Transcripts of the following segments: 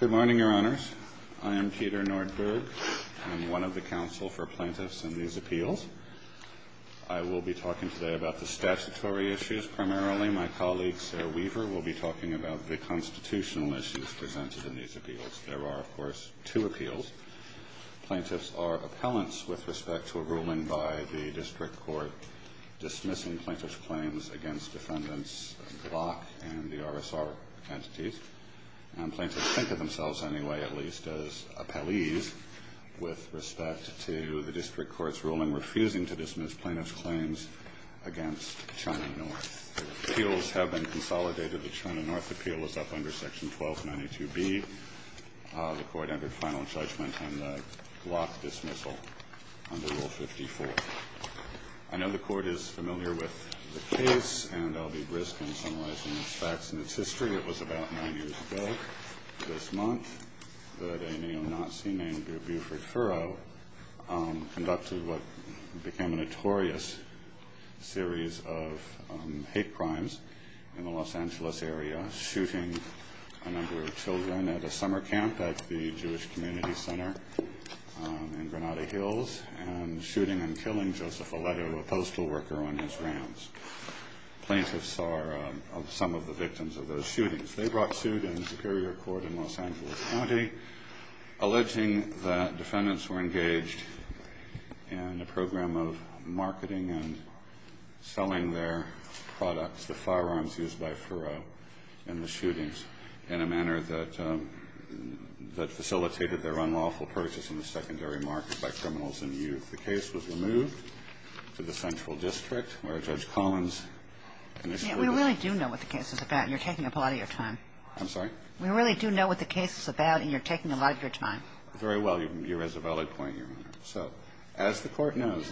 Good morning, Your Honors. I am Peter Nordberg. I'm one of the counsel for plaintiffs in these appeals. I will be talking today about the statutory issues primarily. My colleague, Sarah Weaver, will be talking about the constitutional issues presented in these appeals. There are, of course, two appeals. Plaintiffs are appellants with respect to a ruling by the district court dismissing plaintiffs' claims against defendants, Glock and the RSR entities. Plaintiffs think of themselves anyway, at least, as appellees with respect to the district court's ruling refusing to dismiss plaintiffs' claims against Charney North. Appeals have been consolidated with Charney North appeals. That's under Section 1292B. The court entered final judgment on the Glock dismissal under Rule 54. I know the court is familiar with the case, and I'll be brisk in summarizing the facts in its history. It was about nine years ago this month that a neo-Nazi named Gertrude Furrow conducted what became a notorious series of hate crimes in the Los Angeles area, shooting a number of children at a summer camp at the Jewish Community Center in Granada Hills, and shooting and killing Joseph O'Leary, a postal worker on his ranch. Plaintiffs are some of the victims of those shootings. They brought suit in the Superior Court in Los Angeles County, alleging that defendants were engaged in a program of marketing and selling their products, the firearms used by Furrow in the shootings, in a manner that was not permitted in the secondary market by criminals and youth. The case was removed to the Central District, where Judge Collins... We really do know what the case is about, and you're taking up a lot of your time. I'm sorry? We really do know what the case is about, and you're taking up a lot of your time. Very well, you've raised a valid point, Your Honor. So, as the court knows...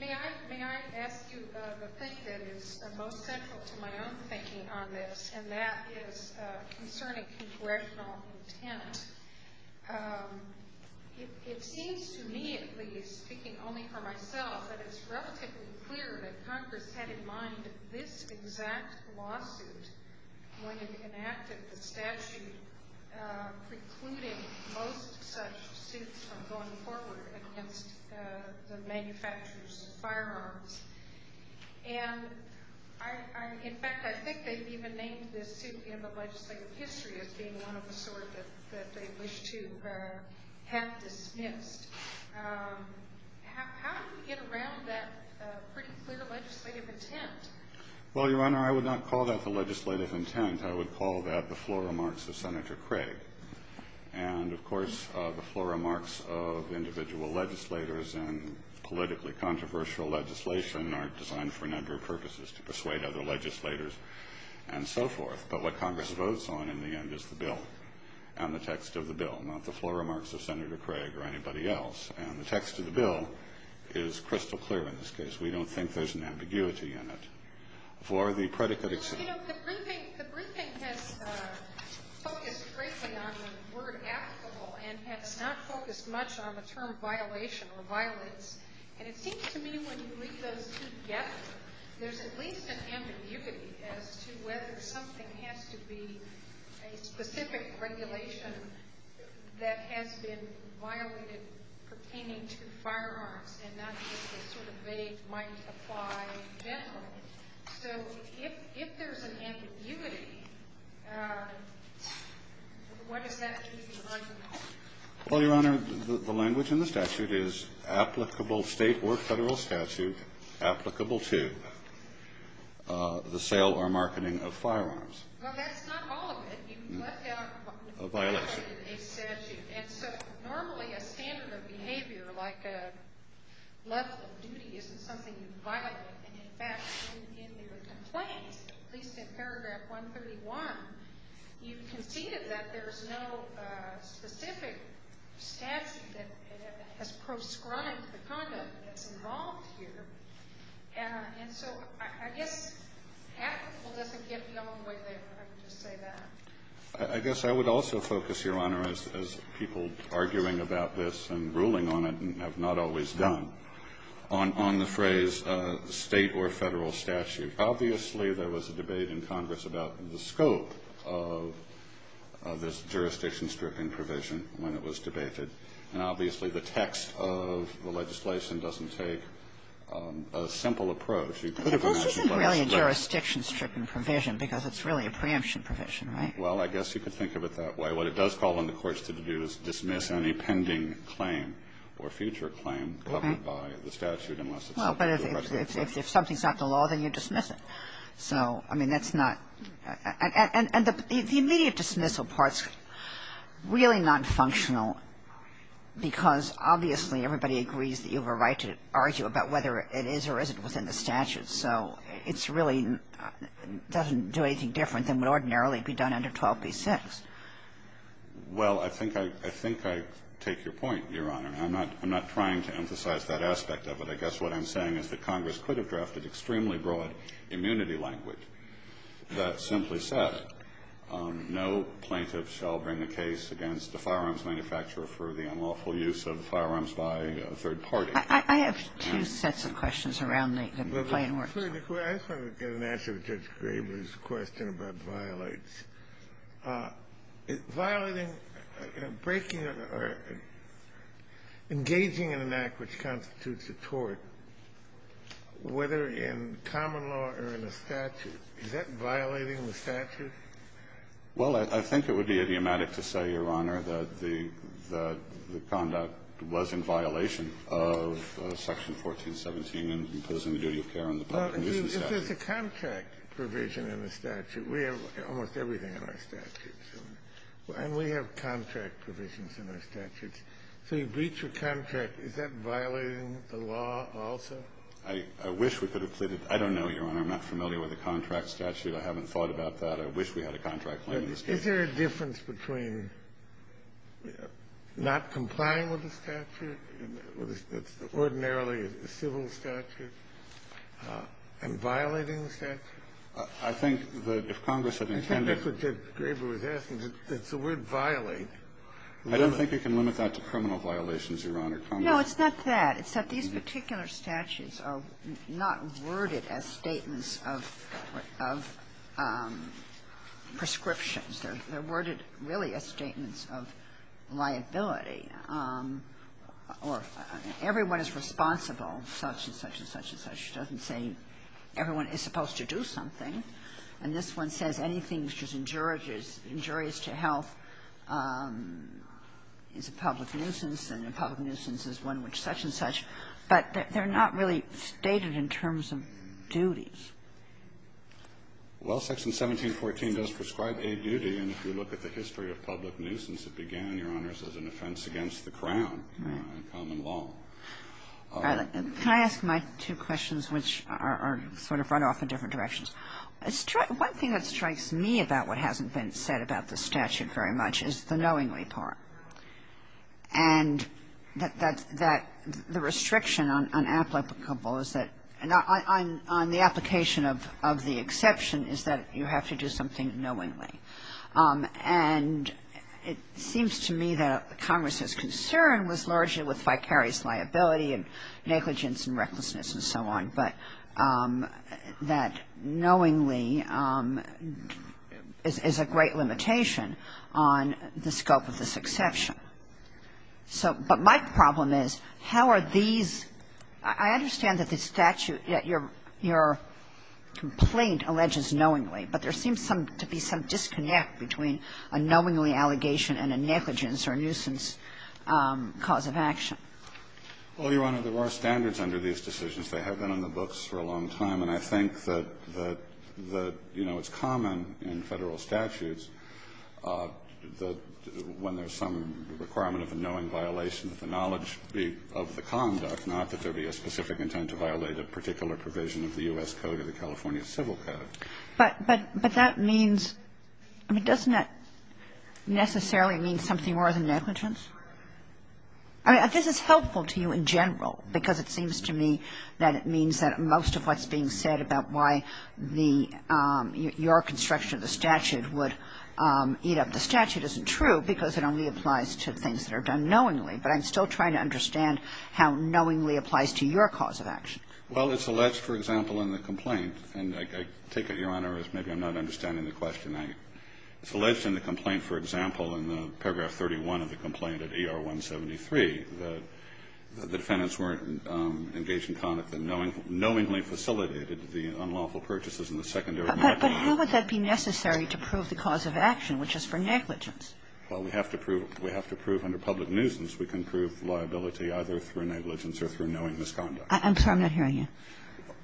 May I ask you a question that is most central to my own thinking on this, and that is concerning situational intent. It seems to me, at least, speaking only for myself, that it's relatively clear that Congress had in mind this exact lawsuit when it enacted the statute, precluding most such suits from going forward against the manufacturers of firearms. And, in fact, I think they've even named this suit in the legislative history as being one of the sort that they wish to have dismissed. How did you get around that pretty clear legislative intent? Well, Your Honor, I would not call that the legislative intent. I would call that the floor remarks of Senator Craig. And, of course, the floor remarks of individual legislators and controversial legislation are designed for a number of purposes to persuade other legislators and so forth. But what Congress votes on, in the end, is the bill and the text of the bill, not the floor remarks of Senator Craig or anybody else. And the text of the bill is crystal clear in this case. We don't think there's an ambiguity in it. For the predicate itself... You know, the briefing has focused greatly on the word, and has not focused much on the term violation or violence. And it seems to me when you read those key guests, there's at least an ambiguity as to whether something has to be a specific regulation that has been violated pertaining to firearms and not just the sort of vague language that might apply generally. So, if there's an ambiguity, what does that mean? Well, Your Honor, the language in the statute is applicable state or federal statute, applicable to the sale or marketing of firearms. Well, that's not all of it. You left out a violation in the statute. And so, normally, a standard of behavior like a less than duty isn't something you violate. And, in fact, in the complaint, at least in paragraph 131, you've conceded that there's no specific statute that has proscribed the conduct that's involved here. And so, I guess, that's a little difficult in a way to say that. I guess I would also focus, Your Honor, as people arguing about this and ruling on it and have not always done, on the phrase state or federal statute. Obviously, there was a debate in Congress about the scope of this jurisdiction-stripping provision when it was debated. And, obviously, the text of the legislation doesn't say a simple approach. This isn't really a jurisdiction-stripping provision, because it's really a preemption provision, right? Well, I guess you could think of it that way. What it does call on the courts to do is dismiss any pending claim or future claim left by the statute unless it's... Well, but if something's not the law, then you dismiss it. So, I mean, that's not... And the immediate dismissal part's really not functional, because, obviously, everybody agrees that you have a right to argue about whether it is or isn't within the statute. So, it really doesn't do anything different than would ordinarily be done under 12b-6. Well, I think I take your point, Your Honor. I'm not trying to emphasize that aspect of it. I guess what I'm saying is that Congress could have drafted extremely broad immunity language that simply said, no plaintiff shall bring a case against the firearms manufacturer for the unlawful use of firearms by a third party. I have two sets of questions around the claim works. I just want to get an answer to Judge Graber's question about violates. Violating, breaking, or engaging in an act which constitutes a tort, whether in common law or in a statute, is that violating the statute? Well, I think it would be idiomatic to say, Your Honor, that the conduct was in violation of Section 1417 and the imposing of duty of care on the part to use the statute. But if there's a contract provision in the statute, we have almost everything in our statute. And we have contract provisions in our statute. So, a breach of contract, is that violating the law also? I wish we could have... I don't know, Your Honor. I'm not familiar with a contract statute. I haven't thought about that. I wish we had a contract. Is there a difference between not complying with the statute, ordinarily a civil statute, and violating the statute? I think that if Congress had intended... That's what Judge Graber was asking. It's the word violate. I don't think you can limit that to criminal violations, Your Honor. No, it's not that. It's that these particular statutes are not worded as statements of prescriptions. They're worded, really, as statements of liability. Everyone is responsible, such and such and such and such. She doesn't say everyone is supposed to do something. And this one says anything which is injurious to health is a public nuisance, and a public nuisance is one which such and such. But they're not really stated in terms of duties. Well, Section 1714 does prescribe a duty, and if you look at the history of public nuisance, it began, Your Honor, as an offense against the Crown and common law. Can I ask my two questions, which are sort of run off in different directions? One thing that strikes me about what hasn't been said about the statute very much is the application of the exception is that you have to do something knowingly. And it seems to me that Congress's concern was largely with vicarious liability and negligence and recklessness and so on, but that knowingly is a great limitation on the scope of this exception. So, but my problem is, how are these, I understand that the statute, that your complaint alleges knowingly, but there seems to be some disconnect between a knowingly allegation and a negligence or nuisance cause of action. Well, Your Honor, there are standards under these decisions. They have been in the books for a long time, and I think that, you know, it's common in federal statutes that when there's some requirement of a knowing violation of the knowledge of the conduct, not that there'd be a specific intent to violate a particular provision of the U.S. Code or the California Civil Code. But that means, I mean, doesn't that necessarily mean something more than negligence? I mean, I guess it's helpful to you in general, because it seems to me that it means that most of what's being said about why the, your construction of the statute would eat up the statute isn't true, because it only applies to things that are done knowingly. But I'm still trying to understand how knowingly applies to your cause of action. Well, it's alleged, for example, in the complaint, and I take it, Your Honor, as maybe I'm not understanding the question. It's alleged in the complaint, for example, in the paragraph 31 of the complaint at ER 173, the defendants weren't engaged in conduct that knowingly facilitated the unlawful purchases in the secondary market. But how would that be necessary to prove the cause of action, which is for negligence? Well, we have to prove under public nuisance. We can prove liability either through negligence or through knowing misconduct. I'm sorry, I'm not hearing you.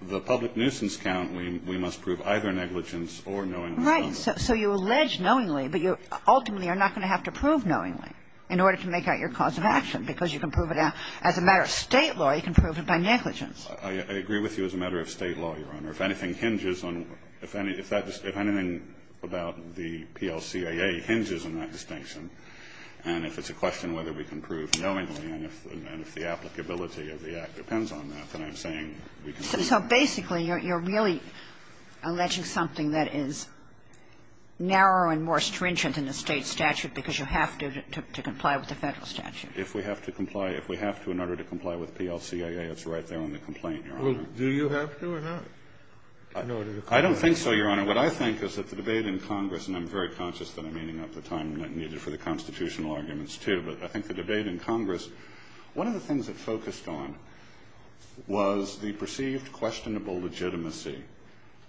The public nuisance count, we must prove either negligence or knowing misconduct. Right. So you allege knowingly, but you ultimately are not going to have to prove knowingly in order to make out your cause of action, because you can prove it out. As a matter of state law, you can prove it by negligence. I agree with you as a matter of state law, Your Honor. If anything hinges on, if anything about the PLCAA hinges on that distinction, and if it's a question whether we can prove knowingly and if the applicability of the act depends on that, then I'm saying we can prove it. So basically, you're really alleging something that is narrow and more stringent in the state statute, because you have to comply with the federal statute. If we have to comply, if we have to in order to comply with PLCAA, it's right there on the complaint, Your Honor. Do you have to or not? I don't think so, Your Honor. What I think is that the debate in Congress, and I'm very conscious of the meaning at the time, and it needed for the constitutional arguments too, but I think the debate in Congress, one of the things it focused on was the perceived questionable legitimacy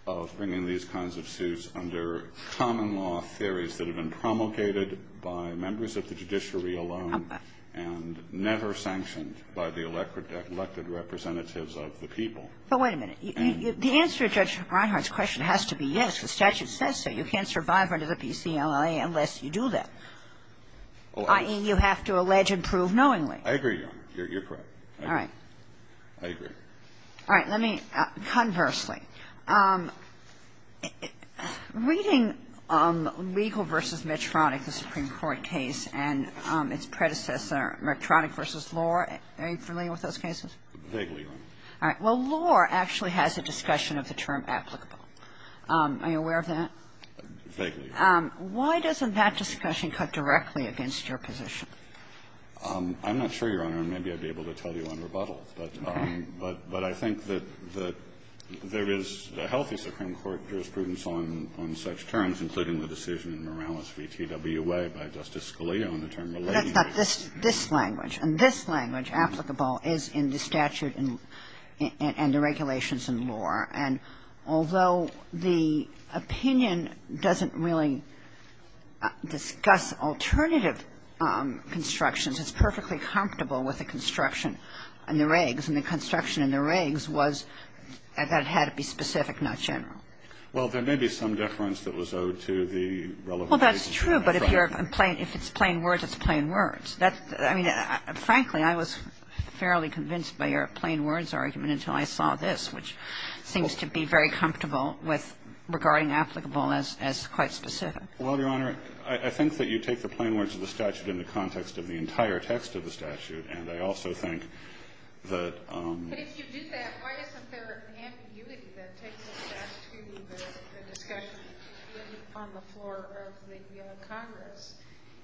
of bringing these kinds of suits under common law theories that have been promulgated by members of the judiciary alone and never sanctioned by the elected representatives of the people. But wait a minute. The answer to Judge Reinhart's question has to be yes, the statute says so. You can't survive under the PCAA unless you do that. I mean, you have to allege and prove knowingly. I agree, Your Honor. You're correct. All right. I agree. All right. Conversely, reading legal versus medtronic, the Supreme Court case, and its predecessor, medtronic versus law, are you familiar with those cases? Vaguely, Your Honor. All right. Well, law actually has a discussion of the term applicable. Are you aware of that? Vaguely, Your Honor. Why doesn't that discussion cut directly against your position? I'm not sure, Your Honor, and maybe I'd be able to tell you on rebuttal. But I think that there is the help of the Supreme Court jurisprudence on such terms, including the decision in Morales v. TWA by Justice Scalia on the term related. That's not this language. And this language, applicable, is in the statute and the regulations and law. And although the opinion doesn't really discuss alternative constructions, it's perfectly comfortable with the construction and the regs. And the construction and the regs was that had to be specific, not general. Well, there may be some difference that was owed to the relevant... Well, that's true. But if it's plain words, it's plain words. Frankly, I was fairly convinced by your plain words argument until I saw this, which seems to be very comfortable with regarding applicable as quite specific. Well, Your Honor, I think that you take the plain words of the statute in the context of the entire text of the statute. And I also think that... If you did that, I would consider it an ambiguity that takes us back to the discussion on the floor of the Congress.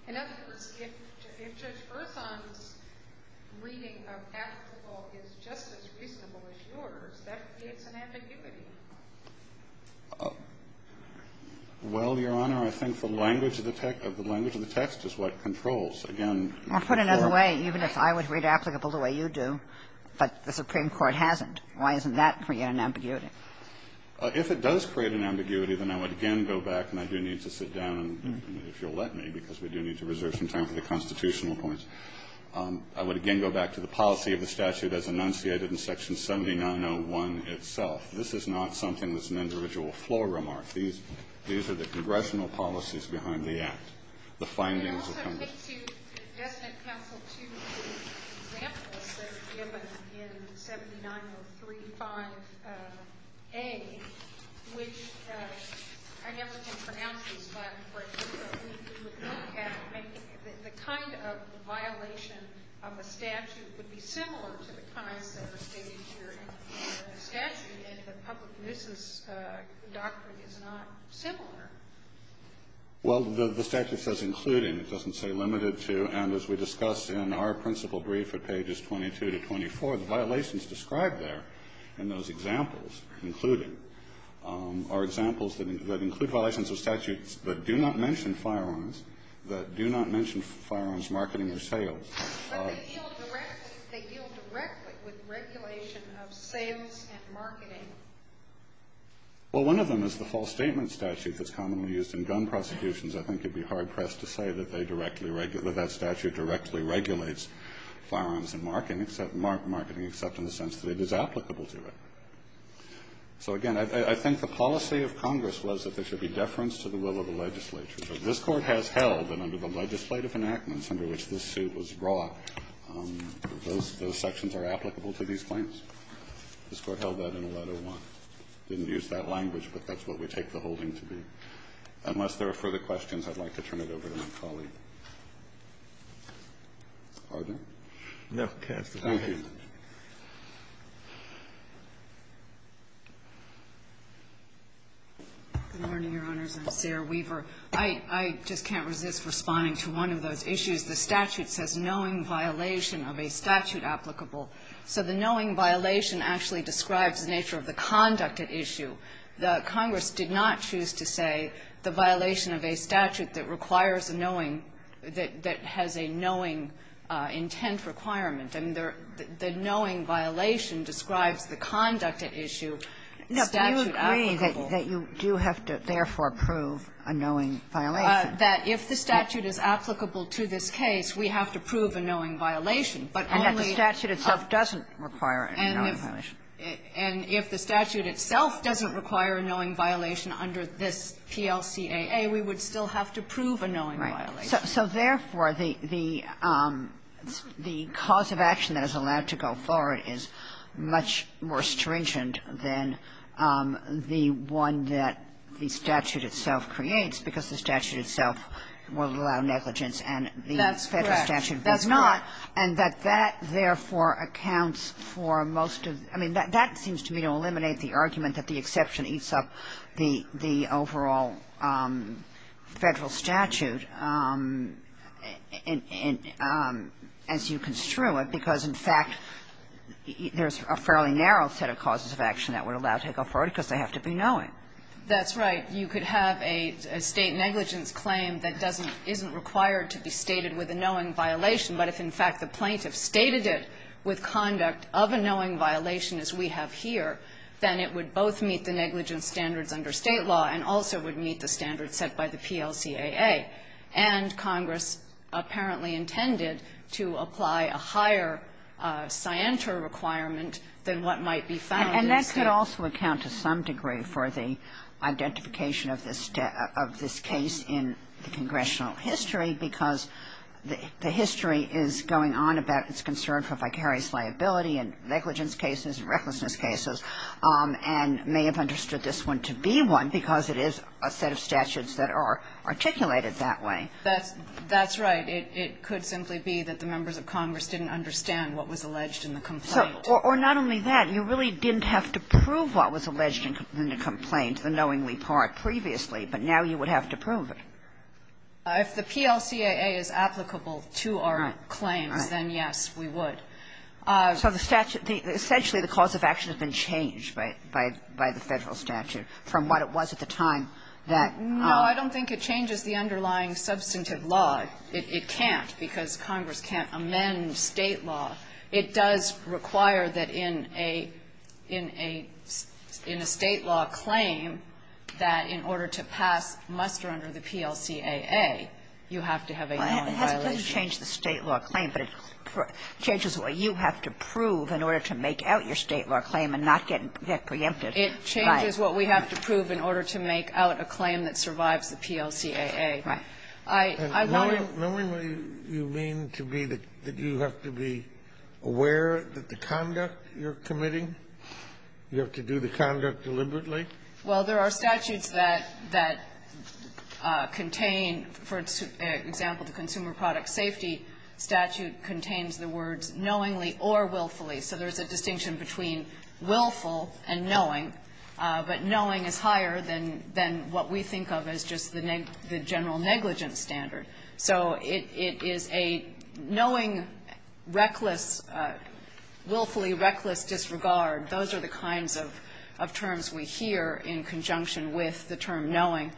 In other words, if Judge Bertham's reading of applicable is just as reasonable as yours, that is an ambiguity. Well, Your Honor, I think the language of the text is what controls. Again... Well, put it another way. Even if I would read applicable the way you do, but the Supreme Court hasn't. Why isn't that, for you, an ambiguity? If it does create an ambiguity, then I would again go back, and I do need to sit down, if you'll let me, because we do need to reserve some time for the constitutional points. I would again go back to the policy of the statute as enunciated in Section 7901 itself. This is not something that's an individual floor remark. These are the congressional policies behind the act. The findings of Congress. I'd like to suggest an example to you, an example that's given in 79035A, which I never can pronounce it, but for example, it would look at the kind of violation of a statute that would be similar to the kind that are stated here in the statute, and the public misses the doctrine is not similar. Well, the statute says including. It doesn't say limited to, and as we discussed in our principal brief at pages 22 to 24, the violations described there in those examples, including, are examples that include violations of statutes that do not mention firearms, that do not mention firearms marketing or sales. But they deal directly with regulation of sales and marketing. Well, one of them is the false statement statute that's commonly used in gun prosecutions. I think you'd be hard-pressed to say that they directly, that statute directly regulates firearms and marketing, except in the sense that it is applicable to it. So again, I think the policy of Congress was that there should be deference to the will of the legislature. So this court has held, and under the legislative enactments under which this suit was brought, those sections are applicable to these claims. This court held that in a letter once. Didn't use that language, but that's what we take the holding to be. Unless there are further questions, I'd like to turn it over to my colleague. Pardon? No. Good morning, Your Honors. I'm Sarah Weaver. I just can't resist responding to one of those issues. The statute says knowing violation of a statute applicable. So the knowing violation actually describes the nature of the conduct at issue. The Congress did not choose to say the violation of a statute that requires the knowing, that has a knowing intent requirement. And the knowing violation describes the conduct at issue. That you do have to therefore prove a knowing violation. That if the statute is applicable to this case, we have to prove a knowing violation. And that the statute itself doesn't require a knowing violation. And if the statute itself doesn't require a knowing violation under this TLCAA, we would still have to prove a knowing violation. So therefore, the cause of action that is allowed to go forward is much more stringent than the one that the statute itself creates, because the statute itself will allow negligence. And the federal statute does not. And that that, therefore, accounts for most of... I mean, that seems to me to eliminate the argument that the exception eats up the overall federal statute as you construe it. Because, in fact, there's a fairly narrow set of causes of action that we're allowed to go forward because they have to be knowing. That's right. You could have a state negligence claim that doesn't... isn't required to be stated with a knowing violation. But if, in fact, the plaintiff stated it with conduct of a knowing violation, as we have here, then it would both meet the negligence standards under state law, and also would meet the standards set by the TLCAA. And Congress apparently intended to apply a higher scienter requirement than what might be found... And that could also account to some degree for the identification of this case in the congressional history, because the history is going on about its concern for vicarious liability and negligence cases and recklessness cases, and may have understood this one to be one because it is a set of statutes that are articulated that way. That's right. It could simply be that the members of Congress didn't understand what was alleged in the complaint. Or not only that. You really didn't have to prove what was alleged in the complaint, unknowingly part, previously. But now you would have to prove it. If the TLCAA is applicable to our claim, then yes, we would. Essentially, the cause of action has been changed by the federal statute, from what it was at the time that... No, I don't think it changes the underlying substantive laws. It can't, because Congress can't amend state law. It does require that in a state law claim, that in order to pass muster under the TLCAA, you have to have a non-violation. It doesn't change the state law claim, but it changes what you have to prove in order to make out your state law claim and not get that preemptive. It changes what we have to prove in order to make out a claim that survives the TLCAA. And knowingly, you mean to me that you have to be aware of the conduct you're committing? You have to do the conduct deliberately? Well, there are statutes that contain, for example, the Consumer Product Safety statute contains the words knowingly or willfully. So there's a distinction between willful and knowing. But knowing is higher than what we think of as just the general negligence standard. So it is a knowing, reckless, willfully reckless disregard. Those are the kinds of terms we hear in conjunction with the term knowing.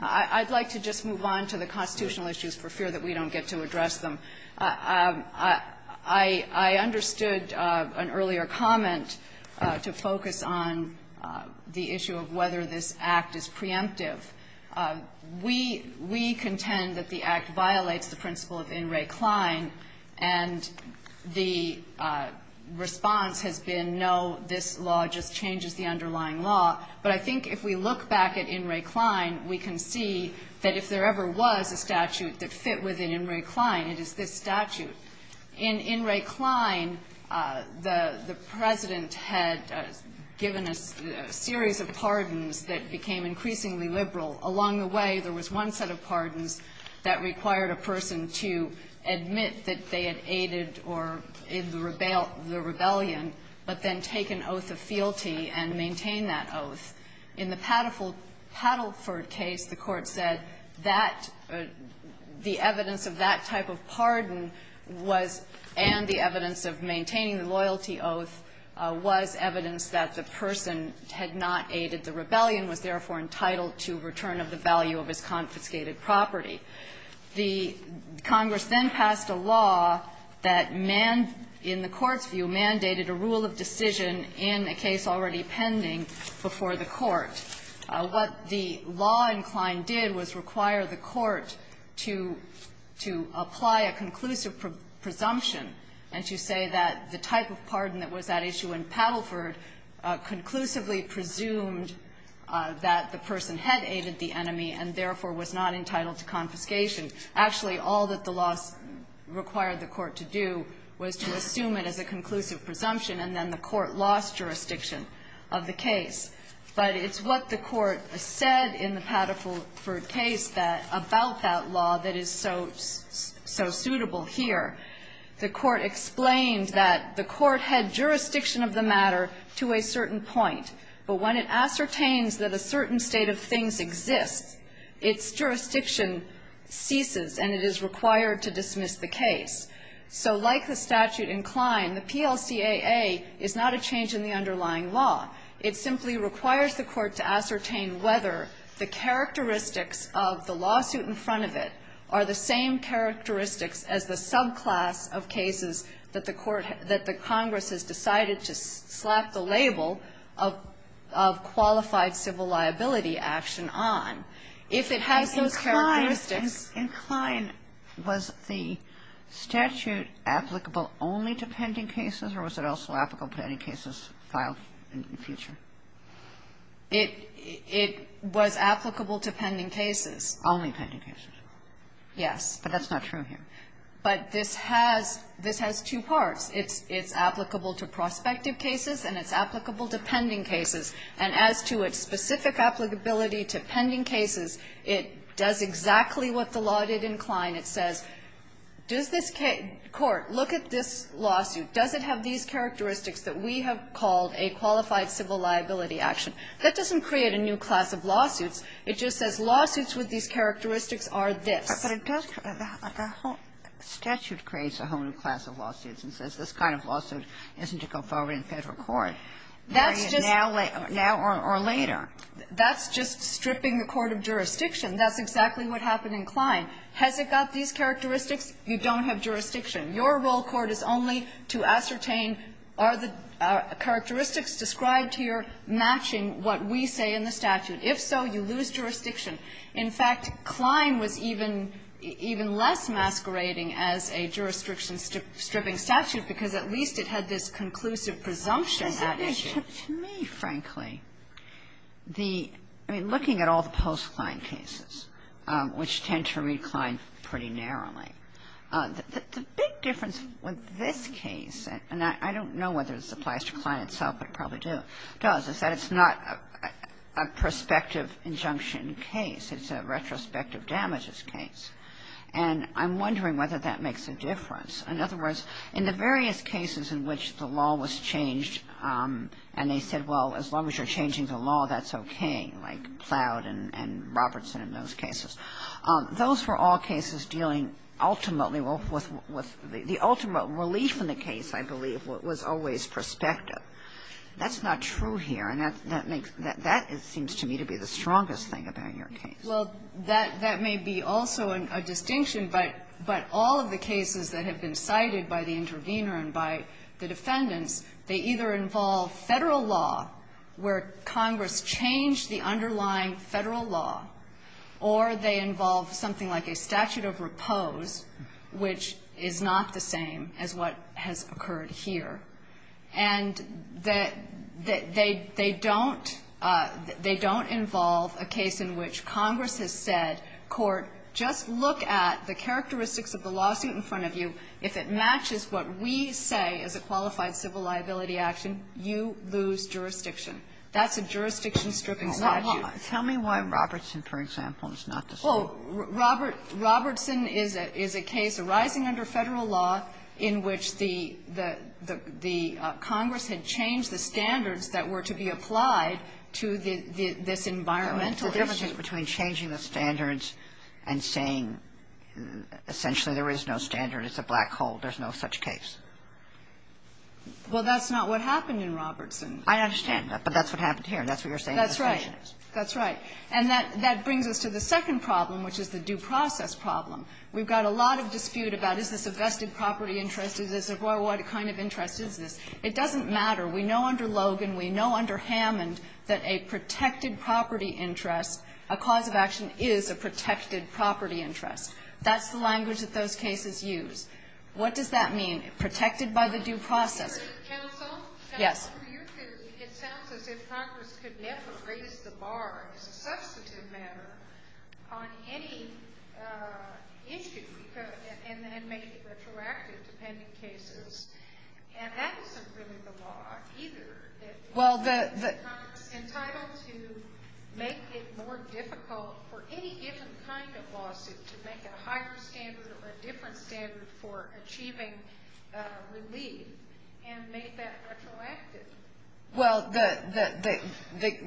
I'd like to just move on to the constitutional issues for fear that we don't get to address them. I understood an earlier comment to focus on the issue of whether this Act is preemptive. We contend that the Act violates the principle of In re Cline and the response has been no, this law just changes the underlying law. But I think if we look back at In re Cline, we can see that if there ever was a statute that fit within In re Cline, it is this statute. In In re Cline, the President had given a series of pardons that became increasingly liberal. Along the way, there was one set of pardons that required a person to admit that they had aided or is the rebellion, but then take an oath of fealty and maintain that oath. In the Paddleford case, the court said that the evidence of that type of pardon and the evidence of maintaining the loyalty oath was evidence that the person had not aided the rebellion, was therefore entitled to return of the value of his confiscated property. The Congress then passed a law that, in the court's view, mandated a rule of decision in a case already pending before the court. What the law in Cline did was require the court to apply a conclusive presumption and to say that the type of pardon that was at issue in Paddleford conclusively presumed that the person had aided the enemy and therefore was not entitled to confiscation. Actually, all that the law required the court to do was to assume it as a conclusive presumption and then the court lost jurisdiction of the case. But it's what the court said in the Paddleford case about that law that is so suitable here. The court explained that the court had jurisdiction of the matter to a certain point, but when it ascertains that a certain state of things exists, its jurisdiction ceases and it is required to dismiss the case. So, like the statute in Cline, the PLCAA is not a change in the underlying law. It simply requires the court to ascertain whether the characteristics of the lawsuit in front of it are the same characteristics as the subclass of cases that the Congress has decided to slap the label of qualified civil liability action on. If it has the characteristics... In Cline, was the statute applicable only to pending cases or was it also applicable to any cases filed in the future? It was applicable to pending cases. Only pending cases? Yes. But that's not true here. But this has two parts. It's applicable to prospective cases and it's applicable to pending cases. And as to its specific applicability to pending cases, it does exactly what the law did in Cline. It says, court, look at this lawsuit. Does it have these characteristics that we have called a qualified civil liability action? That doesn't create a new class of lawsuits. It just says lawsuits with these characteristics are this. But it does... the statute creates a whole new class of lawsuits and says this kind of lawsuit isn't to go forward in federal court. Now or later. That's just stripping the court of jurisdiction. That's exactly what happened in Cline. Has it got these characteristics? You don't have jurisdiction. Your rule of court is only to ascertain are the characteristics described here matching what we say in the statute? If so, you lose jurisdiction. In fact, Cline was even less masquerading as a jurisdiction-stripping statute because at least it had this conclusive presumption that it should. To me, frankly, looking at all the post-Cline cases, which tend to recline pretty narrowly, the big difference with this case, and I don't know whether this applies to Cline itself, it probably does, is that it's not a prospective injunction case. It's a retrospective damages case. And I'm wondering whether that makes a difference. In other words, in the various cases in which the law was changed and they said, well, as long as you're changing the law, that's okay, like Plowd and Robertson in those cases. Those were all cases dealing ultimately with the ultimate relief in the case, I believe, was always prospective. That's not true here. And that seems to me to be the strongest thing about your case. Well, that may be also a distinction, but all of the cases that have been cited by the intervener and by the defendants, they either involve federal law, where Congress changed the underlying federal law, or they involve something like a statute of repose, which is not the same as what has occurred here. And they don't involve a case in which Congress has said, court, just look at the characteristics of the lawsuit in front of you. If it matches what we say is a qualified civil liability action, you lose jurisdiction. That's a jurisdiction-stripping lawsuit. Tell me why Robertson, for example, is not the same. Robertson is a case arising under federal law in which the Congress had changed the standards that were to be applied to this environmental issue. The difference between changing the standards and saying essentially there is no standard is a black hole. There's no such case. Well, that's not what happened in Robertson. I understand that, but that's what happened here. That's what you're saying. That's right. And that brings us to the second problem, which is the due process problem. We've got a lot of dispute about, is this a vested property interest? Is this a, what kind of interest is this? It doesn't matter. We know under Logan, we know under Hammond, that a protected property interest, a cause of action is a protected property interest. That's the language that those cases use. What does that mean? Protected by the due process. Counsel? Yes. It sounds as if Congress could never raise the bar as a substantive matter on any issue, and then make it retroactive to pending cases. And that wasn't really the law either. Well, the... Congress was entitled to make it more difficult for any different kind of lawsuit to make a higher standard or a different standard for achieving relief, and make that retroactive. Well,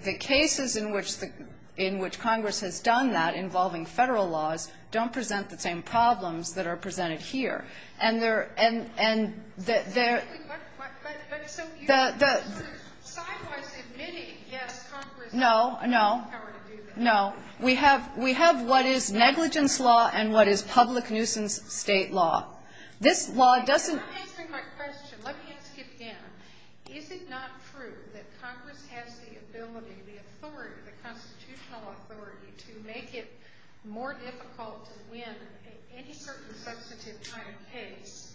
the cases in which Congress has done that, involving federal laws, don't present the same problems that are presented here. And there... No. No. No. We have what is negligence law and what is public nuisance state law. This law doesn't... Let me ask you a question. Let me ask you again. Is it not true that Congress has the ability, the authority, the constitutional authority to make it more difficult to win any certain substantive kind of case,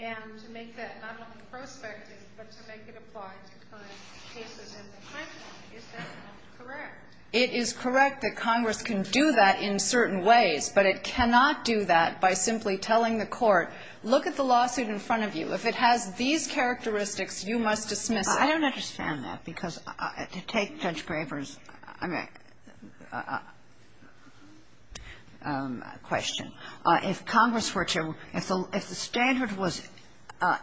and to make that not only prospective, but to make it a part of the kind of cases in the country? Is that correct? It is correct that Congress can do that in certain ways, but it cannot do that by simply telling the court, look at the lawsuit in front of you. If it has these characteristics, you must dismiss it. I don't understand that, because to take Judge Graber's question, if Congress were to... If the standard was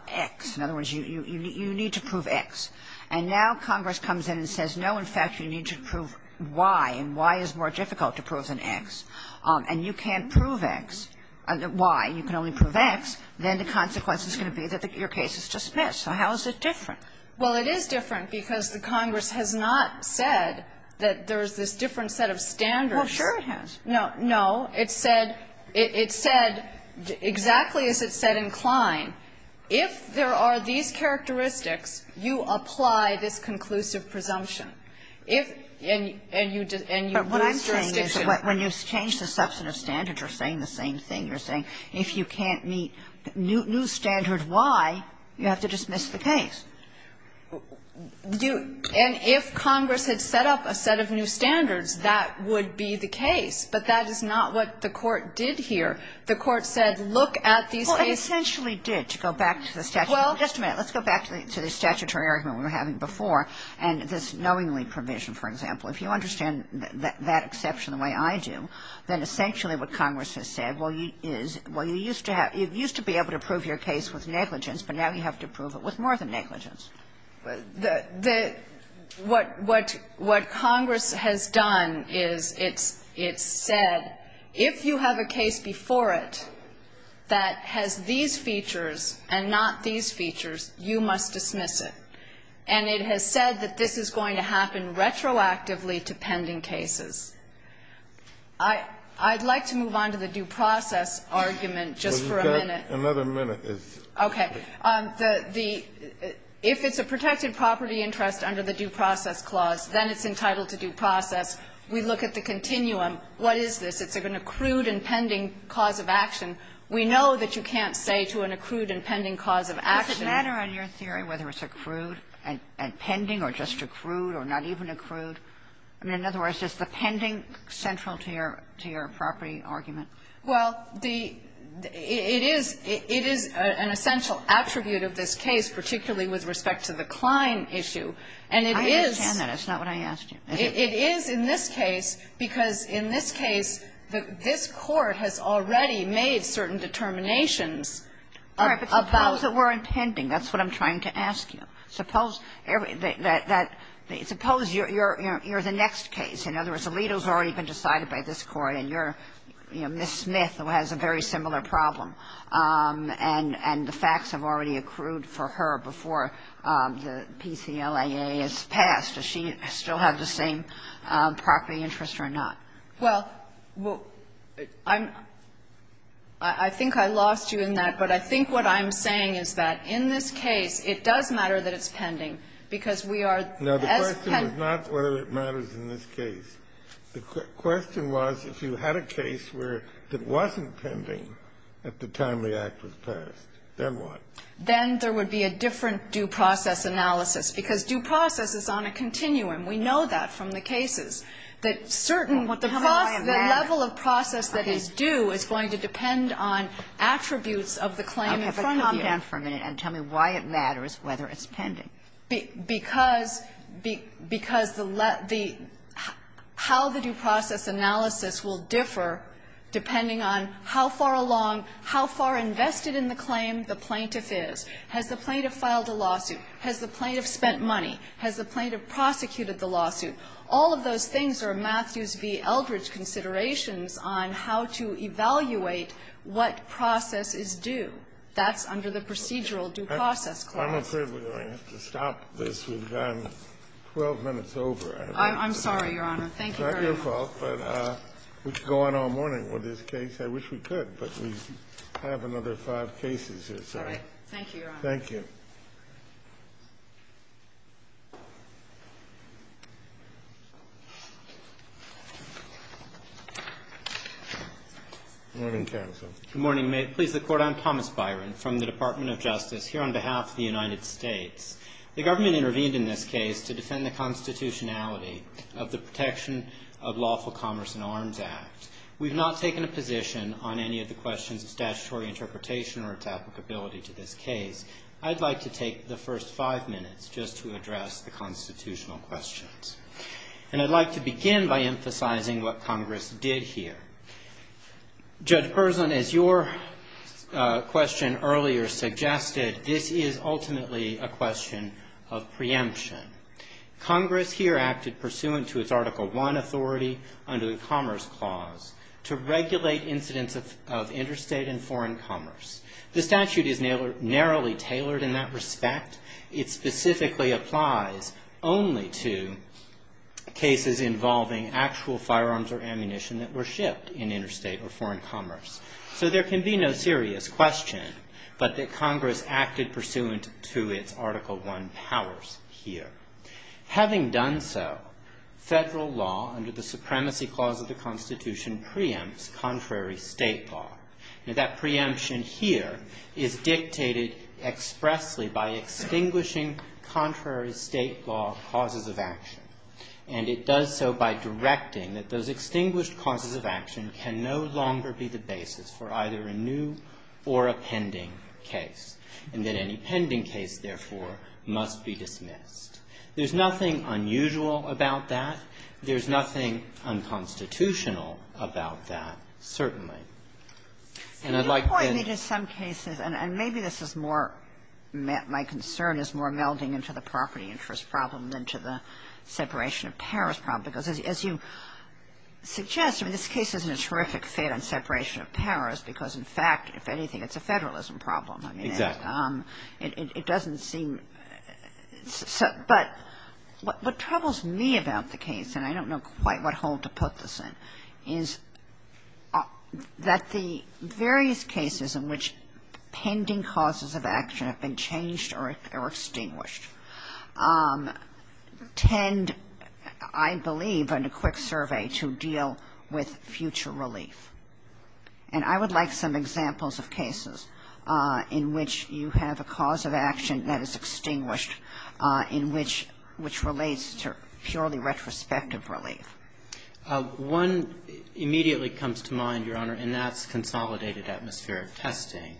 X, in other words, you need to prove X, and now Congress comes in and says, no, in fact, you need to prove Y, and Y is more difficult to prove than X, and you can't prove X, Y, you can only prove X, then the consequence is going to be that your case is dismissed. So how is this different? Well, it is different because the Congress has not said that there's this different set of standards. Oh, sure it has. No. No. It said exactly as it said in Klein. If there are these characteristics, you apply this conclusive presumption. But what I'm saying is when you change the substantive standards, you're saying the same thing. You're saying if you can't meet new standards Y, you have to dismiss the case. And if Congress had set up a set of new standards, that would be the case, but that is not what the court did here. The court said, look at these... Well, it essentially did, to go back to the statutory argument we were having before, and this knowingly provision, for example, if you understand that exception the way I do, then essentially what Congress has said is, well, you used to be able to prove your case with negligence, but now you have to prove it with more than negligence. What Congress has done is it said, if you have a case before it that has these features and not these features, you must dismiss it. And it has said that this is going to happen retroactively to pending cases. I'd like to move on to the due process argument just for a minute. Another minute is... Okay. If it's a protected property interest under the due process clause, then it's entitled to due process. We look at the continuum. What is this? It's an accrued and pending clause of action. Does it matter in your theory whether it's accrued and pending or just accrued or not even accrued? In other words, is the pending central to your property argument? Well, it is an essential attribute of this case, particularly with respect to the Klein issue. I understand that. That's not what I asked you. It is in this case, because in this case, this court has already made certain determinations about the word pending. That's what I'm trying to ask you. Suppose you're the next case. In other words, the legal's already been decided by this court and you're Miss Smith who has a very similar problem. And the facts have already accrued for her before the PCLIA is passed. Does she still have the same property interest or not? Well, I think I lost you in that, but I think what I'm saying is that in this case, it does matter that it's pending, because we are... No, the question is not whether it matters in this case. The question was if you had a case that wasn't pending at the time the act was passed, then what? Then there would be a different due process analysis, because due process is on a continuum. We know that from the cases. The level of process that is due is going to depend on attributes of the claim in front of you. Okay, but comment for a minute and tell me why it matters whether it's pending. How the due process analysis will differ depending on how far along, how far invested in the claim the plaintiff is. Has the plaintiff filed a lawsuit? Has the plaintiff spent money? Has the plaintiff prosecuted the lawsuit? All of those things are Matthews v. Eldredge considerations on how to evaluate what process is due. That's under the procedural due process. I'm afraid we're going to have to stop this. We've gone 12 minutes over. I'm sorry, Your Honor. Thank you very much. It's not your fault, but we could go on all morning with this case. I wish we could, but we have another five cases here. All right. Thank you, Your Honor. Thank you. Good morning, counsel. Good morning. May it please the Court, I'm Thomas Byron from the Department of Justice here on behalf of the United States. The government intervened in this case to defend the constitutionality of the Protection of Lawful Commerce and Arms Act. We've not taken a position on any of the questions of statutory interpretation or its applicability to this case. I'd like to the first five minutes just to address the constitutional questions. I'd like to begin by emphasizing what Congress did here. Judge Person, as your question earlier suggested, this is ultimately a question of preemption. Congress here acted pursuant to its Article I authority under the Commerce Clause to regulate incidents of interstate and foreign commerce. The statute is narrowly tailored in that respect. It specifically applies only to cases involving actual firearms or ammunition that were shipped in interstate or foreign commerce. So there can be no serious question, but that Congress acted pursuant to its Article I powers here. Having done so, federal law under the Supremacy Clause of the Constitution preempts contrary state law. And that preemption here is dictated expressly by extinguishing contrary state law causes of action. And it does so by directing that those extinguished causes of action can no longer be the basis for either a new or a pending case. And that any pending case, therefore, must be dismissed. There's nothing unusual about that. There's nothing unconstitutional about that, certainly. And I'd like... It's important that in some cases, and maybe this is more, my concern is more melding into the property interest problem than to the separation of powers problem. Because as you suggest, I mean, this case is in a terrific state on separation of powers, because in fact, if anything, it's a federalism problem. I mean, it doesn't seem... But what troubles me about the case, and I don't know quite what hole to put this in, is that the various cases in which pending causes of action have been changed or extinguished tend, I believe, in a quick survey to deal with future relief. And I would like some examples of cases in which you have a cause of perspective relief. One immediately comes to mind, Your Honor, and that's consolidated atmospheric testing.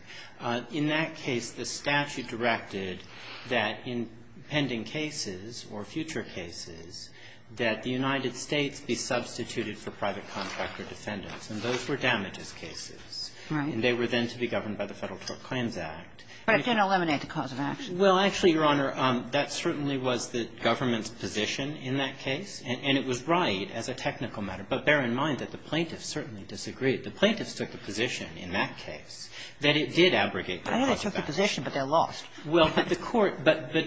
In that case, the statute directed that in pending cases or future cases, that the United States be substituted for private contractor defendants. And those were damages cases. And they were then to be governed by the Federal Court Claims Act. But it didn't eliminate the cause of action. Well, actually, Your Honor, that certainly was the government's position in that case. And it was right as a technical matter. But bear in mind that the plaintiffs certainly disagreed. The plaintiffs took a position in that case that it did abrogate the statute. I know it took a position, but they're lost. Well, to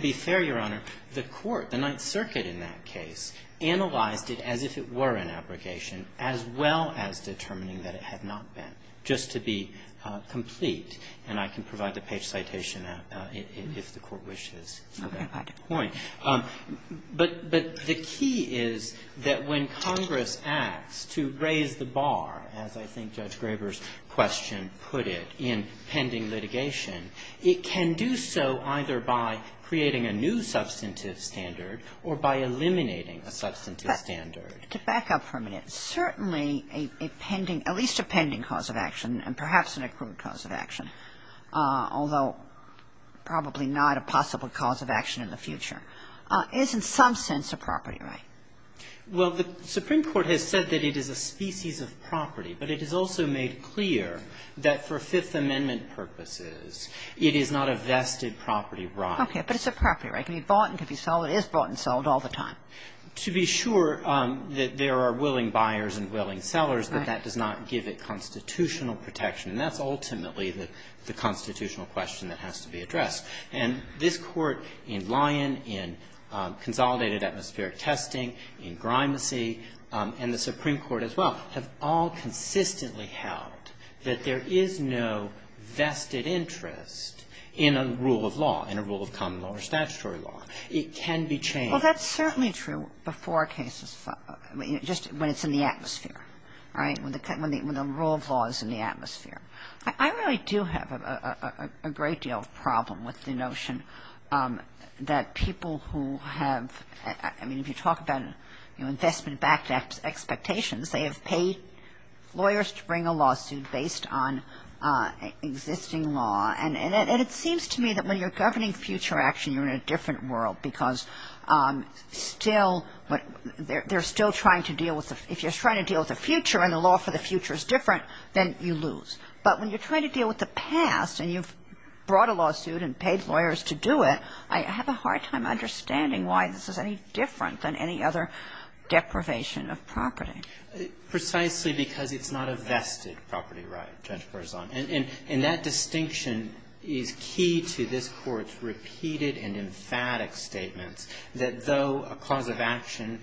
be fair, Your Honor, the court, the Ninth Circuit in that case, analyzed it as if it were an abrogation, as well as determining that it had not been, just to be complete. And I can provide the page citation if the court wishes to that point. But the key is that when Congress acts to raise the bar, as I think Judge Graber's question put it, in pending litigation, it can do so either by creating a new substantive standard or by eliminating a substantive standard. To back up for a minute, certainly a pending, at least a pending cause of action and perhaps an accrued cause of action, although probably not a possible cause of action in the future, is in some sense a property right. Well, the Supreme Court has said that it is a species of property. But it has also made clear that for Fifth Amendment purposes, it is not a vested property right. Okay, but it's a property right. It can be bought and can be sold. It is bought and sold all the time. To be sure that there are willing buyers and willing sellers, that that does not give it constitutional protection. And that's ultimately the constitutional question that has to be addressed. And this Court in Lyon, in Consolidated Atmospheric Testing, in Grimesy, and the Supreme Court as well, have all consistently held that there is no vested interest in a rule of law, in a rule of common law or statutory law. It can be changed. That's certainly true before cases, just when it's in the atmosphere, right? When the rule of law is in the atmosphere. I really do have a great deal of problem with the notion that people who have, I mean, if you talk about investment backed expectations, they have paid lawyers to bring a lawsuit based on existing law. And it seems to me that when you're governing future action, you're in a different world because still, they're still trying to deal with, if you're trying to deal with the future and the law for the future is different, then you lose. But when you're trying to deal with the past and you've brought a lawsuit and paid lawyers to do it, I have a hard time understanding why this is any different than any other deprivation of property. Precisely because it's not a vested property right, Jennifer is on. And that distinction is key to this Court's repeated and emphatic statement that though a cause of action,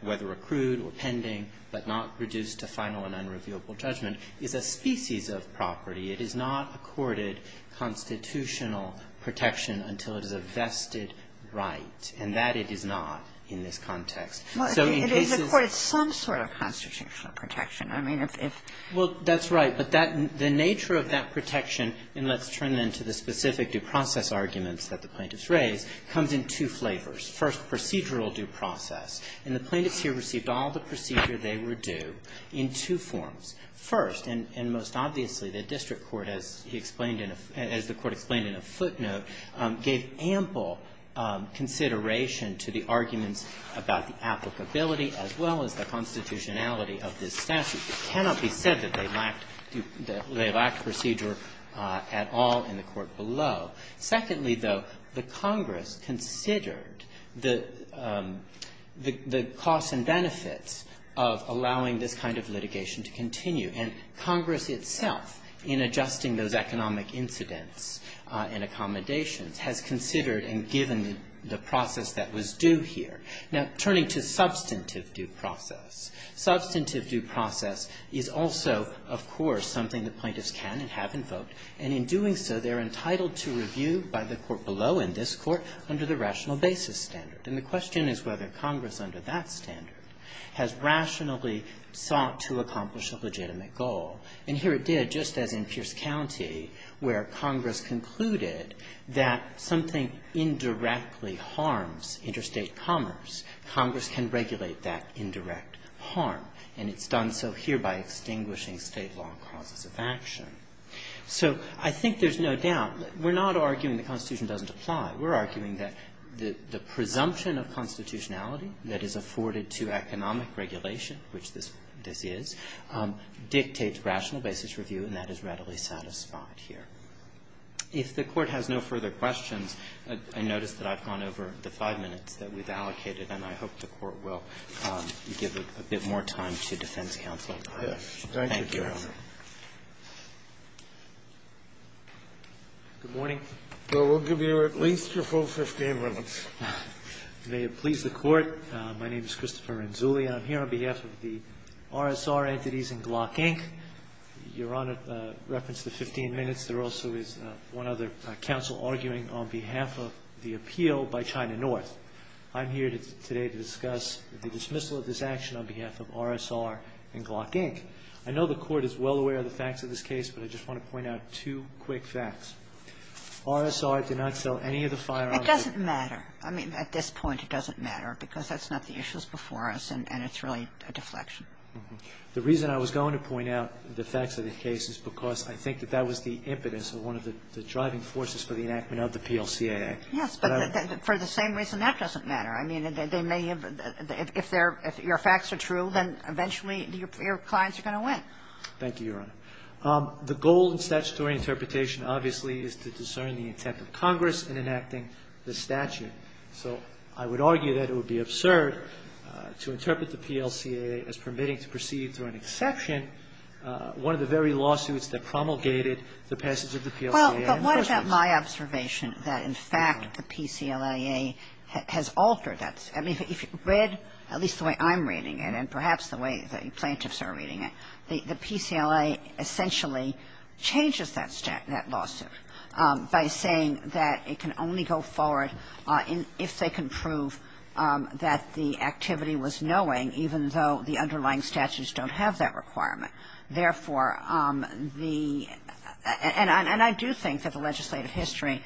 whether accrued or pending, but not reduced to final and unrevealable judgment, is a species of property, it is not accorded constitutional protection until it is a vested right. And that it is not in this context. Well, it is accorded some sort of constitutional protection. I mean, if... Well, that's right. But the nature of that protection, and let's turn then to the specific process arguments that the plaintiffs raised, comes in two flavors. First, procedural due process. And the plaintiffs here received all the procedure they were due in two forms. First, and most obviously, the district court, as he explained in a...as the Court explained in a footnote, gave ample consideration to the argument about the applicability as well as the constitutionality of this statute. It cannot be said that they lacked procedure at all in the case itself. Secondly, though, the Congress considered the costs and benefits of allowing this kind of litigation to continue. And Congress itself, in adjusting those economic incidents and accommodations, has considered and given the process that was due here. Now, turning to substantive due process. Substantive due process is also, of course, something the plaintiffs can and have invoked. And in doing so, they're entitled to review by the court below, in this court, under the rational basis standard. And the question is whether Congress, under that standard, has rationally sought to accomplish a legitimate goal. And here it did, just as in Pierce County, where Congress concluded that something indirectly harms interstate commerce, Congress can regulate that indirect harm. And it's done so here by extinguishing state law costs of action. So, I think there's no doubt. We're not arguing the Constitution doesn't apply. We're arguing that the presumption of constitutionality that is afforded to economic regulation, which this is, dictates rational basis review, and that is readily satisfied here. If the Court has no further questions, I notice that I've gone over the five minutes that we've allocated, and I hope the Court will give a bit more time to defense counsel. Thank you. Good morning. So, we'll give you at least your full 15 minutes. May it please the Court, my name is Christopher Renzulli. I'm here on behalf of the RSR entities and Glock Inc. You're on a reference to 15 minutes. There also is one other counsel arguing on behalf of the appeal by China North. I'm here today to discuss the dismissal of this action on behalf of RSR and Glock Inc. I know the Court is well aware of the facts of this case, but I just want to point out two quick facts. RSR did not sell any of the firearms. It doesn't matter. I mean, at this point, it doesn't matter because that's not the issues before us, and it's really a deflection. The reason I was going to point out the facts of the case is because I think that that was the impetus of one of the driving forces for the enactment of the PLCA Act. Yes, but for the same reason, that doesn't matter. I mean, they may have, if your facts are true, then eventually your clients are going to win. Thank you, Your Honor. The goal in statutory interpretation, obviously, is to discern the intent of Congress in enacting the statute. So I would argue that it would be absurd to interpret the PLCA as permitting to proceed through an exception, one of the very lawsuits that promulgated the passage of the PLCA. Well, but wasn't that my observation, that in fact the PCLIA has altered that? I mean, if you read, at least the way I'm reading it, and perhaps the way the plaintiffs are reading it, the PCLIA essentially changes that statute, that lawsuit, by saying that it can only go forward if they can prove that the activity was knowing, even though the underlying statutes don't have that requirement. Therefore, the, and I do think that the legislative history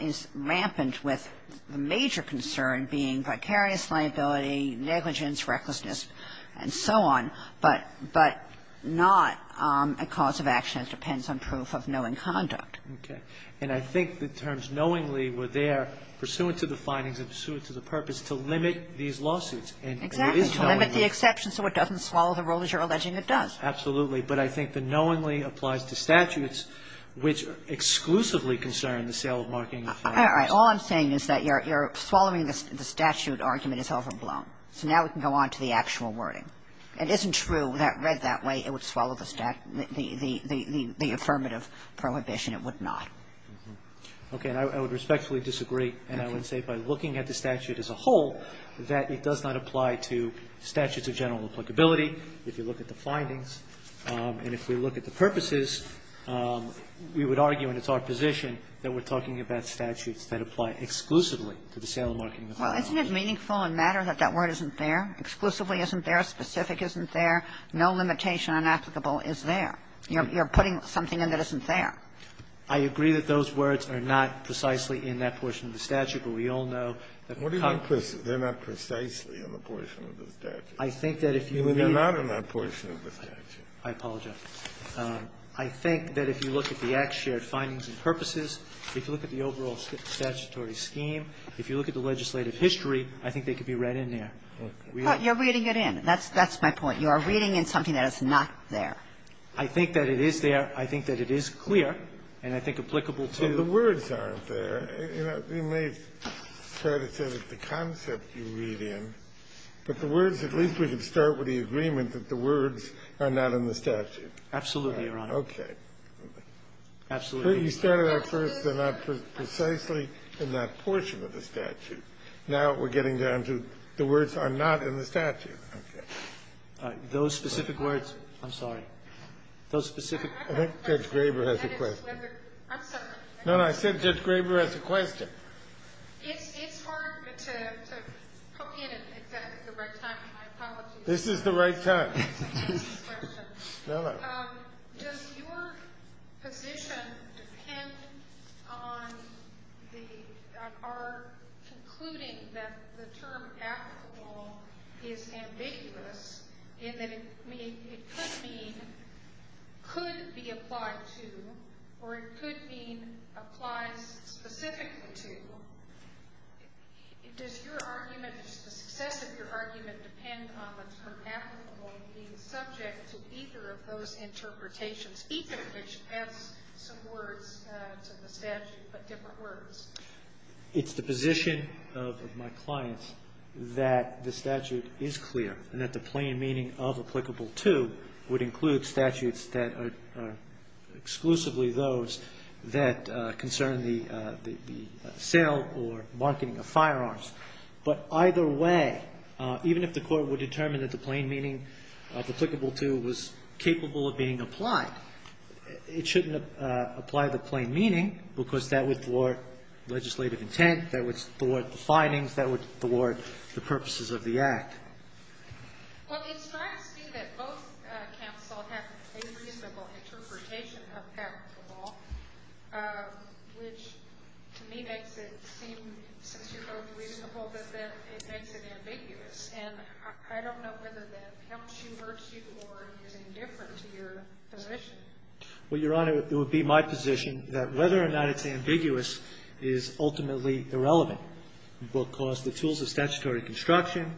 is rampant with the major concern being vicarious liability, negligence, recklessness, and so on, but not a cause of action that depends on proof of knowing conduct. Okay, and I think the terms knowingly were there pursuant to the findings and pursuant to the purpose to limit these lawsuits. Exactly, to limit the exception so it doesn't swallow the role, as you're alleging it does. Absolutely, but I think the knowingly applies to statutes which exclusively concern the sale of markings. All I'm saying is that you're swallowing the statute argument is overblown, so now we can go on to the actual wording. It isn't true that read that way it would swallow the affirmative prohibition, it would not. Okay, I would respectfully disagree, and I would say by looking at the statute as a whole, that it does not apply to statutes of general applicability. If you look at the findings, and if we look at the purposes, we would argue, and it's our position, that we're talking about statutes that apply exclusively to the sale of markings. Well, isn't it meaningful and matter that that word isn't there, exclusively isn't there, specific isn't there, no limitation on applicable is there? You're putting something in that isn't there. I agree that those words are not precisely in that portion of the statute, but we all know that... What do you mean, they're not precisely in the portion of the statute? I think that if you... They're not in that portion of the statute. I apologize. I think that if you look at the act's shared findings and purposes, if you look at the overall statutory scheme, if you look at the legislative history, I think they could be read in there. But you're reading it in, that's my point, you are reading in something that is not there. I think that it is there, I think that it is clear, and I think applicable to... The words aren't there, you know, you may try to say that the concept you read in, but the words, at least we can start with the agreement that the words are not in the statute. Absolutely, Your Honor. Okay. Absolutely. You said it at first, they're not precisely in that portion of the statute. Now we're getting down to the words are not in the statute. Okay. Those specific words, I'm sorry, those specific... I think Judge Graber has a question. No, I said Judge Graber has a question. This is the right time. Does your position depend on our concluding that the term applicable is ambiguous, in that it could mean, could be applied to, or it could mean applied specifically to, does your argument, the success of your argument depend on the term applicable being subject to either of those interpretations, either of which have some words in the statute, but different words? It's the position of my clients that the statute is clear, and that the plain meaning of applicable to would include statutes that are exclusively those that concern the sale or marking of firearms. But either way, even if the court would determine that the plain meaning of applicable to was capable of being applied, it shouldn't apply the plain meaning because that would thwart legislative intent, that would thwart the findings, that would thwart the purposes of the act. Well, in fact, I see that both counsel have a reasonable interpretation of applicable, which to me makes it seem so reasonable that it makes it ambiguous, and I don't know whether that helps you, hurts you, or is it any different to your position. Well, Your Honor, it would be my position that whether or not it's ambiguous is ultimately irrelevant. It will cause the tools of statutory construction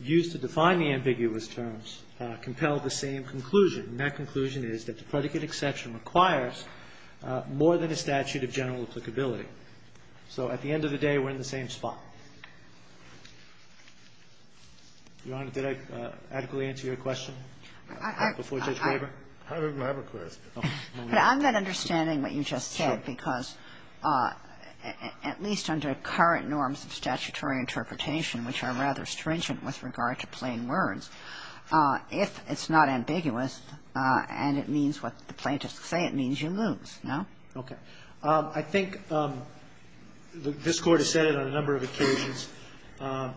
used to define the ambiguous terms compel the same conclusion, and that conclusion is that the predicate exception requires more than a statute of general applicability. So, at the end of the day, we're in the same spot. Your Honor, did I adequately answer your question? I'm not understanding what you just said because, at least under current norms of statutory interpretation, which are rather stringent with regard to plain words, if it's not ambiguous, and it means what the plaintiffs say, it means you lose, no? Okay. I think this Court has said it on a number of occasions,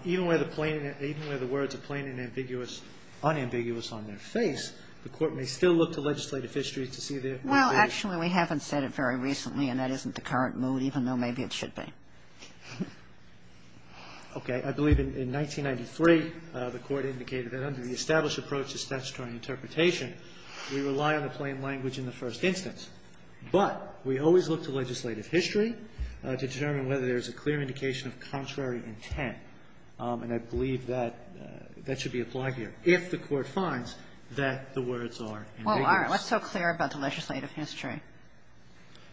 even where the plain, even where the words are plain and ambiguous, unambiguous on their face, the Court may still look to legislative histories to see their... Well, actually, we haven't said it very recently, and that isn't the current mood, even though maybe it should be. Okay. I believe in 1993, the Court indicated that under the established approach of statutory interpretation, we rely on the plain language in the first instance, but we always look to legislative history to determine whether there's a clear indication of contrary intent, and I believe that that should be applied here, if the Court finds that the words are... Well, all right. Let's talk clear about the legislative history.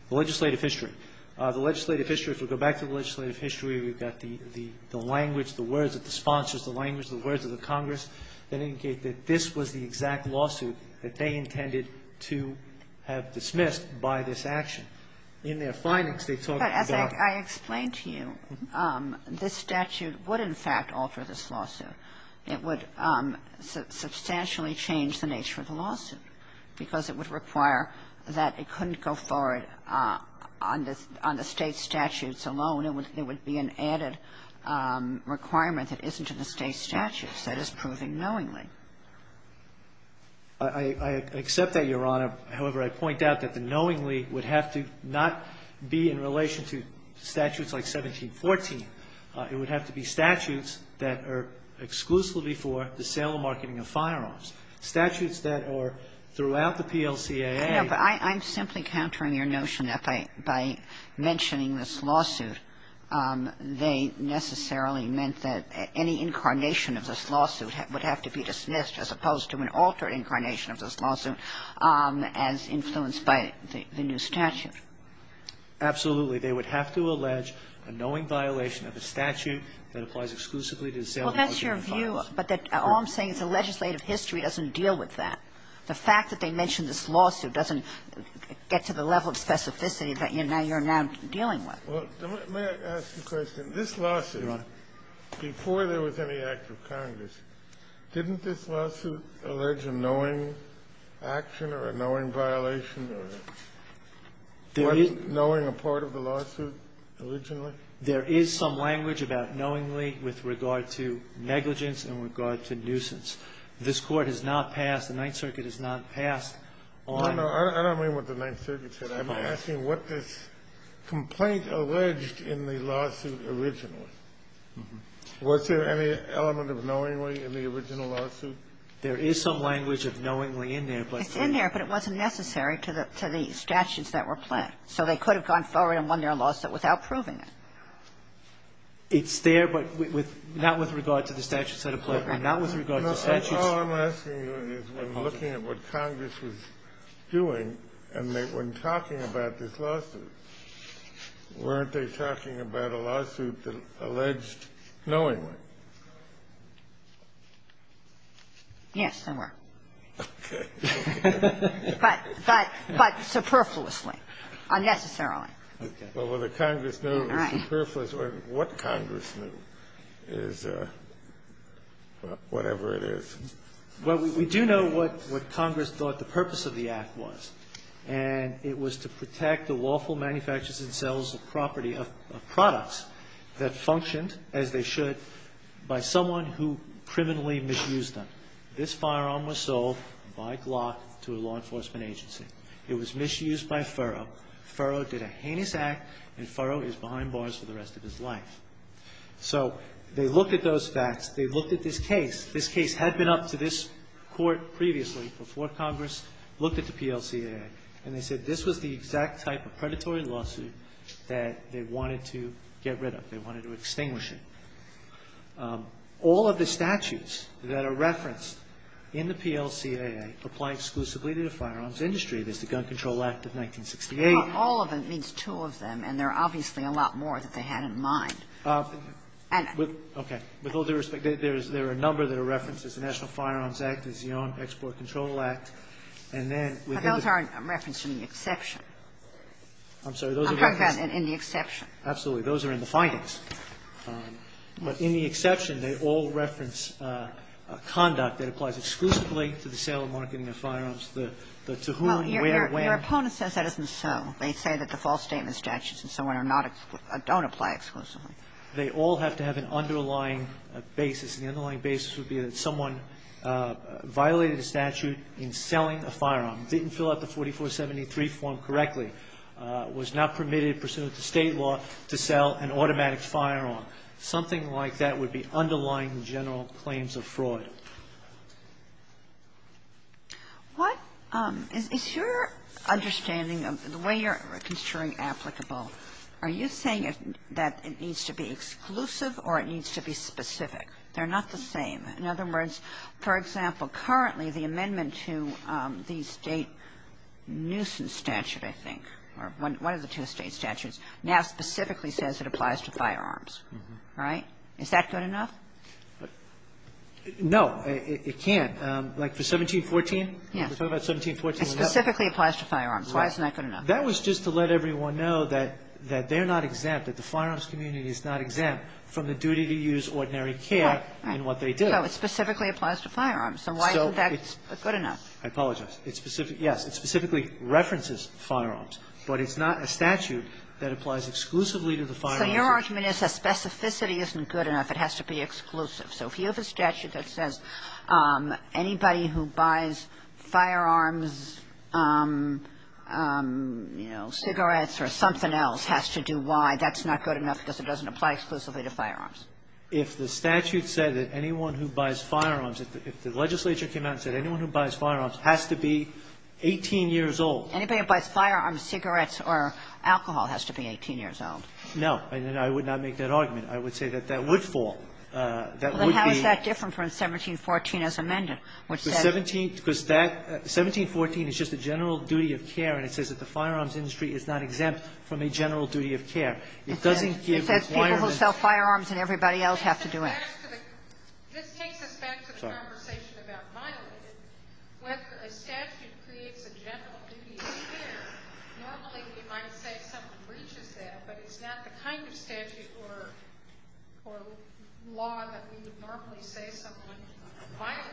The legislative history. The legislative history, if we go back to the legislative history, we've got the language, the words of the sponsors, the language, the words of the Congress that indicate that this was the exact lawsuit that they intended to have dismissed by this action. In their findings, they talked about... I explained to you, this statute would, in fact, alter this lawsuit. It would substantially change the nature of the lawsuit, because it would require that it couldn't go forward on the state statutes alone. It would be an added requirement that isn't in the state statute that is proving knowingly. I accept that, Your Honor. However, I point out that the knowingly would have to not be in relation to statutes like 1714. It would have to be statutes that are exclusively for the sale and marketing of firearms. Statutes that are throughout the PLCAA... But I'm simply countering your notion that by mentioning this lawsuit, they necessarily meant that any incarnation of this lawsuit would have to be dismissed, as opposed to an altered incarnation of this lawsuit, as influenced by the new statute. Absolutely. They would have to allege a knowing violation of a statute that applies exclusively to the sale... Well, that's your view, but all I'm saying is the legislative history doesn't deal with that. The fact that I mentioned this lawsuit doesn't get to the level of specificity that you're now dealing with. Well, let me ask you a question. This lawsuit, before there was any act of Congress, didn't this lawsuit allege a knowing action or a knowing violation or wasn't knowing a part of the lawsuit originally? There is some language about knowingly with regard to negligence and with regard to nuisance. This court has not passed, the Ninth Circuit has not passed on... I don't know what the Ninth Circuit said. I'm asking what the complaint alleged in the lawsuit originally. Was there any element of knowingly in the original lawsuit? There is some language of knowingly in there, but... It's in there, but it wasn't necessary to the statutes that were planned, so they could have gone forward and won their lawsuit without proving it. It's there, but not with regard to the statutes that were planned. That's all I'm asking you is when looking at what Congress was doing and when talking about this lawsuit, weren't they talking about a lawsuit that alleged knowingly? Yes, they were, but superfluously, unnecessarily. Well, what Congress knew is whatever it is. Well, we do know what Congress thought the purpose of the act was, and it was to protect the lawful manufacturers and sellers of products that functioned as they should by someone who criminally misused them. This firearm was sold by Glock to a law enforcement agency. It was misused by Furrow. Furrow did a heinous act, and Furrow is behind bars for the rest of his life. So, they looked at those facts. They looked at this case. This case had been up to this court previously before Congress looked at the PLCAA, and they said this was the exact type of predatory lawsuit that they wanted to get rid of. They wanted to extinguish it. All of the statutes that are referenced in the PLCAA apply exclusively to the firearms industry. There's the Gun Control Act of 1968. All of them, it means two of them, and there are obviously a lot more that they had in mind. Okay. With all due respect, there are a number that are referenced. There's the National Firearms Act, there's the Export Control Act, and then... But those aren't referenced in the exception. I'm sorry, those are... I'm talking about in the exception. Absolutely. Those are in the findings, but in the exception, they all reference a conduct that applies exclusively to sale and marketing of firearms. To whom, where, when... Your opponent says that isn't so. They say that the false statement statutes and so on don't apply exclusively. They all have to have an underlying basis, and the underlying basis would be that someone violated the statute in selling a firearm, didn't fill out the 4473 form correctly, was not permitted pursuant to state law to sell an automatic firearm. Something like that would be underlying general claims of fraud. What... Is your understanding of the way you're considering applicable, are you saying that it needs to be exclusive or it needs to be specific? They're not the same. In other words, for example, currently the amendment to the state nuisance statute, I think, or one of the two state statutes, now specifically says it applies to firearms, right? Is that good enough? No, it can't. Like the 1714? Yeah. It specifically applies to firearms. Why isn't that good enough? That was just to let everyone know that they're not exempt, that the firearms community is not exempt from the duty to use ordinary care in what they do. So it specifically applies to firearms, so why isn't that good enough? I apologize. It specifically references firearms, but it's not a statute that applies exclusively to the firearms... So your argument is that specificity isn't good enough, it has to be exclusive. So here's a statute that says anybody who buys firearms, you know, cigarettes or something else has to do why that's not good enough because it doesn't apply exclusively to firearms. If the statute said that anyone who buys firearms, if the legislature came out and said anyone who buys firearms has to be 18 years old... Anybody who buys firearms, cigarettes, or alcohol has to be 18 years old. No, I would not make that argument. I would say that that would fall. How is that different from 1714 as amended? 1714 is just a general duty of care, and it says that the firearms industry is not exempt from a general duty of care. It says people who sell firearms and everybody else have to do it. Just take the fact of the conversation about violence. Whether a statute creates a general duty of care, not only would you like to say something recent to that, but it's not the kind of statute or law that we would normally say something violent.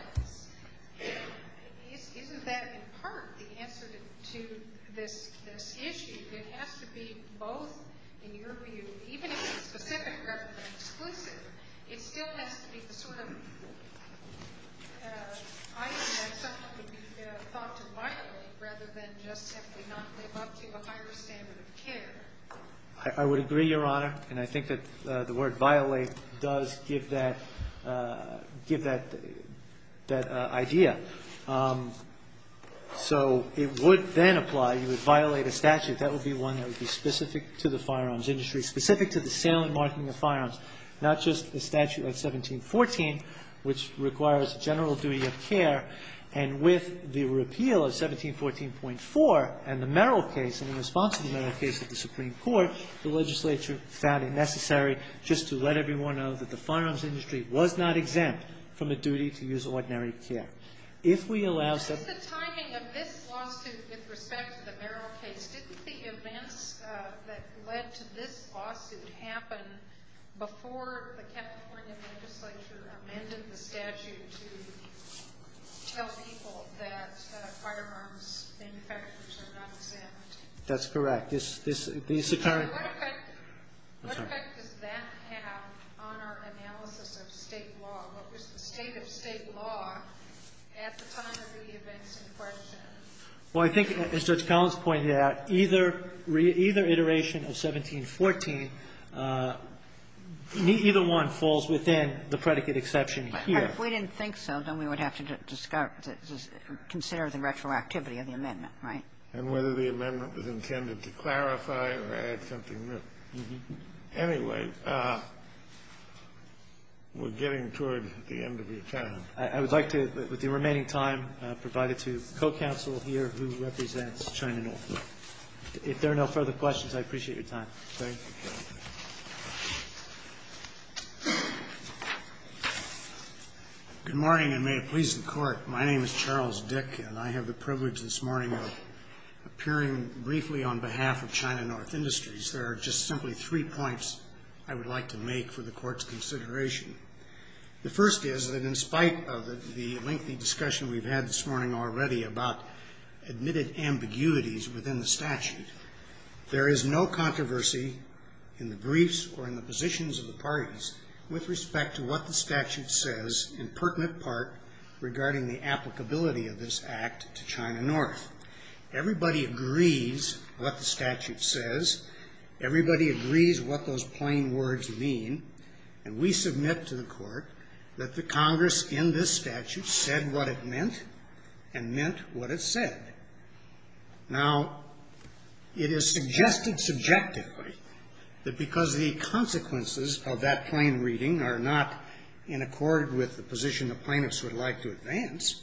Isn't that in part the answer to this issue? It has to be both, in your view, even if it's specific rather than exclusive, it still has to be the same. I think that something would be thought to violate rather than just have to not live up to a higher standard of care. I would agree, Your Honor, and I think that the word violate does give that idea. So, it would then apply. You would violate a statute. That would be one that specific to the sale and marketing of firearms, not just the statute of 1714, which requires general duty of care, and with the repeal of 1714.4 and the Merrill case and the response to the Merrill case at the Supreme Court, the legislature found it necessary just to let everyone know that the firearms industry was not exempt from a duty to use ordinary care. If we allow... Given the timing of this lawsuit with respect to the Merrill case, didn't the events that led to this lawsuit happen before the California legislature amended the statute to tell people that firearms infections are not exempt? That's correct. What effect does that have on our analysis of state law? What was the state of state law at the time of the events in court? Well, I think, as Judge Collins pointed out, either iteration of 1714, either one falls within the predicate exception here. If we didn't think so, then we would have to consider the retroactivity of the amendment, right? And whether the amendment was intended to clarify or add something new. Anyway, we're getting towards the end of the attorney. I would like to, with the remaining time provided to co-counsel here who represents China North. If there are no further questions, I appreciate your time. Good morning, and may it please the Court. My name is Charles Dick, and I have the privilege this morning of appearing briefly on behalf of China North Industries. There are just simply three points I would like to make for the Court's consideration. The first is that in spite of the lengthy discussion we've had this morning already about admitted ambiguities within the statute, there is no controversy in the briefs or in the positions of the parties with respect to what the statute says in pertinent part regarding the applicability of this act to China North. Everybody agrees what the statute says. Everybody agrees what those plain words mean, and we submit to the Court that the Congress in this statute said what it meant and meant what it said. Now, it is suggested subjectively that because the consequences of that plain reading are not in accord with the position the plaintiffs would like to advance,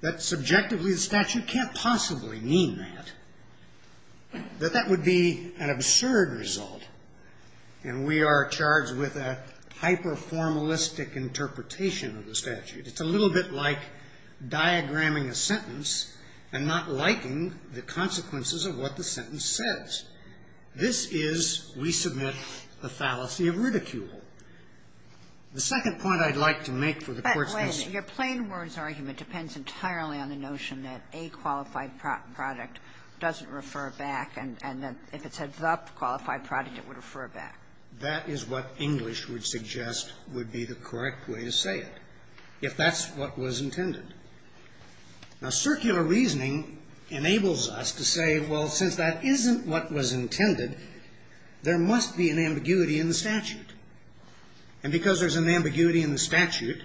that subjectively the statute can't possibly mean that, that that would be an absurd result, and we are charged with a hyper-formalistic interpretation of the statute. It's a little bit like diagramming a sentence and not liking the consequences of what the sentence says. This is, we submit, a fallacy of ridicule. The second point I'd like to make for the Court's consideration. Your plain words argument depends entirely on the notion that a qualified product doesn't refer back, and then if it's a not qualified product, it would refer back. That is what English would suggest would be the correct way to say it, if that's what was intended. Now, circular reasoning enables us to say, well, since that isn't what was intended, there must be an ambiguity in the statute, and because there's an ambiguity in the statute,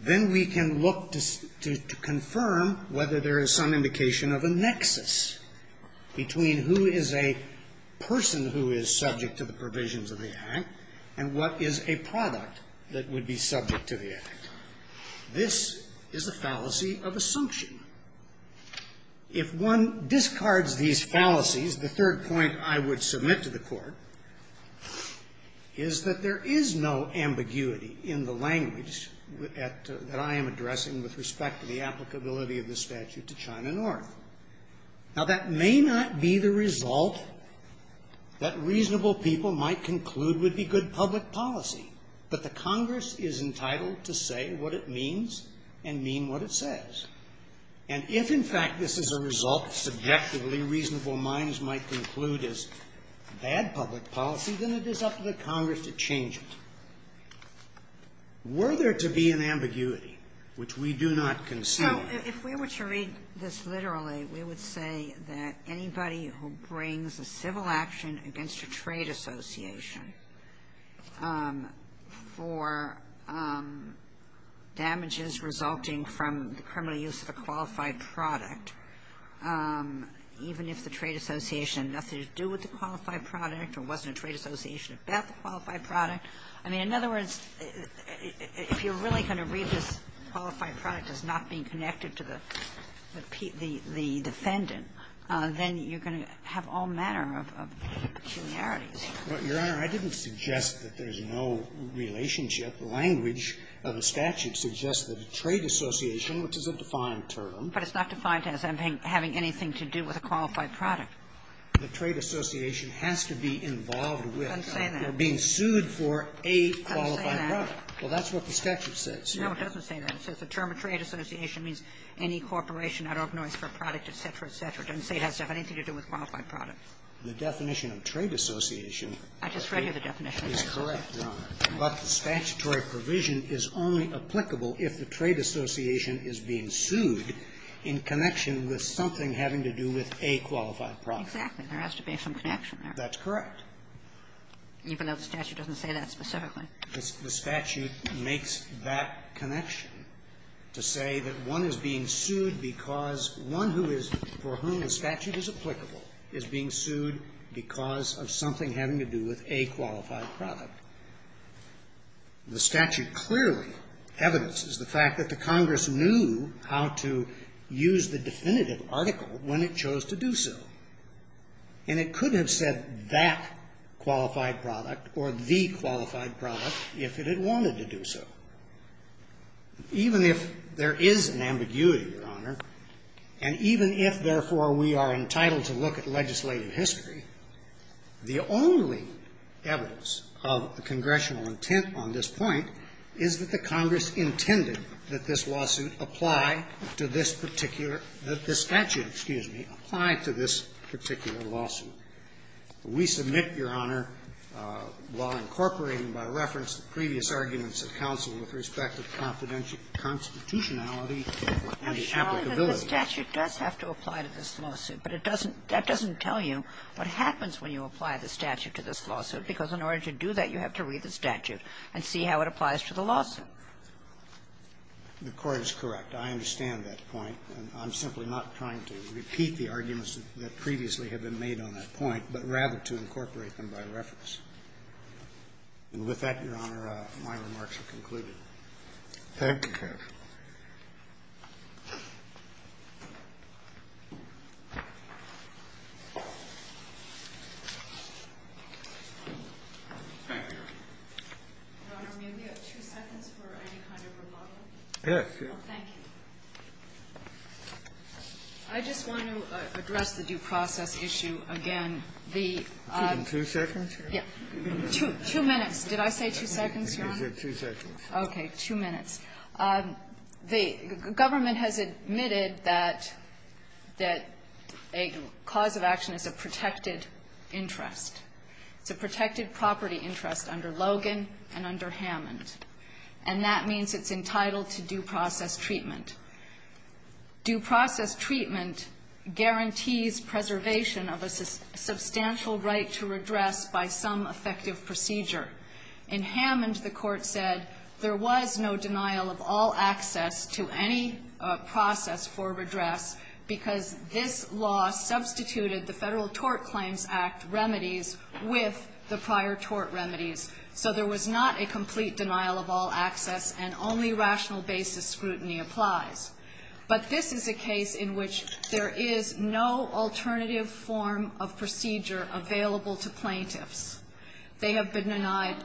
then we can look to confirm whether there is some indication of a nexus between who is a person who is subject to the provisions of the Act, and what is a product that would be subject to the Act. This is a fallacy of assumption. If one discards these fallacies, the third point I want to make is that the Congress is entitled to say what it means and mean what it says. Now, that may not be the result that reasonable people might conclude would be good public policy, but the Congress is entitled to say what it means and mean what it says, and if, in fact, this is a result subjectively reasonable minds might conclude is bad public policy, then it is up to Congress to change it. Were there to be an ambiguity, which we do not consider... Well, if we were to read this literally, we would say that anybody who brings a civil action against a trade association for damages resulting from the criminal use of a qualified product, even if the trade association had nothing to do with the qualified product or wasn't a trade association, got the qualified product. I mean, in other words, if you're really going to read this qualified product as not being connected to the defendant, then you're going to have all manner of peculiarities. Your Honor, I didn't suggest that there's no relationship. The language of the statute suggests that the trade association, which is a defined term... But it's not defined as having anything to do with a qualified product. The trade association has to be involved with or being sued for a qualified product. Well, that's what the statute says. No, it doesn't say that. It says the term trade association means any corporation, I don't know, for a product, et cetera, et cetera. It doesn't say it has anything to do with a qualified product. The definition of trade association... I just read you the definition. It's correct, Your Honor, but the statutory provision is only applicable if the trade association is being sued for a qualified product. Exactly. There has to be some connection there. That's correct. Even though the statute doesn't say that specifically. The statute makes that connection to say that one is being sued because one who is... for whom the statute is applicable is being sued because of something having to do with a qualified product. The statute clearly evidences the fact that the Congress knew how to use the definitive article when it chose to do so, and it couldn't have said that qualified product or the qualified product if it had wanted to do so. Even if there is an ambiguity, Your Honor, and even if, therefore, we are entitled to look at legislative history, the only evidence of congressional intent on this point is that the Congress intended that this lawsuit apply to this particular... that the statute, excuse me, apply to this particular lawsuit. We submit, Your Honor, while incorporating by reference previous arguments of counsel with respect to confidential constitutionality... The statute does have to apply to this lawsuit, but it doesn't... that doesn't tell you what happens when you apply the statute to this lawsuit because in order to do that, you have to read the statute and see how it applies to the lawsuit. The court is correct. I understand that point, and I'm simply not trying to repeat the arguments that previously have been made on that point, but rather to incorporate them by reference. With that, Your Honor, my remarks are concluded. Thank you, Judge. Governor, may we have two seconds for any kind of rebuttal? Yes, Your Honor. Thank you. I just want to address the due process issue again. The... Two seconds? Yes. Two minutes. Did I say two seconds, Your Honor? Two seconds. Okay, two minutes. The government has admitted that a cause of action is a protected interest, the protected property interest under Logan and under Hammond, and that means it's entitled to due process treatment. Due process treatment guarantees preservation of a substantial right to redress by some effective procedure. In Hammond, the court said there was no denial of all access to any process for redress because this law substituted the federal tort claims act remedies with the prior tort remedies. So there was not a complete denial of all access, and only rational basis scrutiny applies. But this is a case in which there is no alternative form of procedure available to plaintiffs. They have been denied...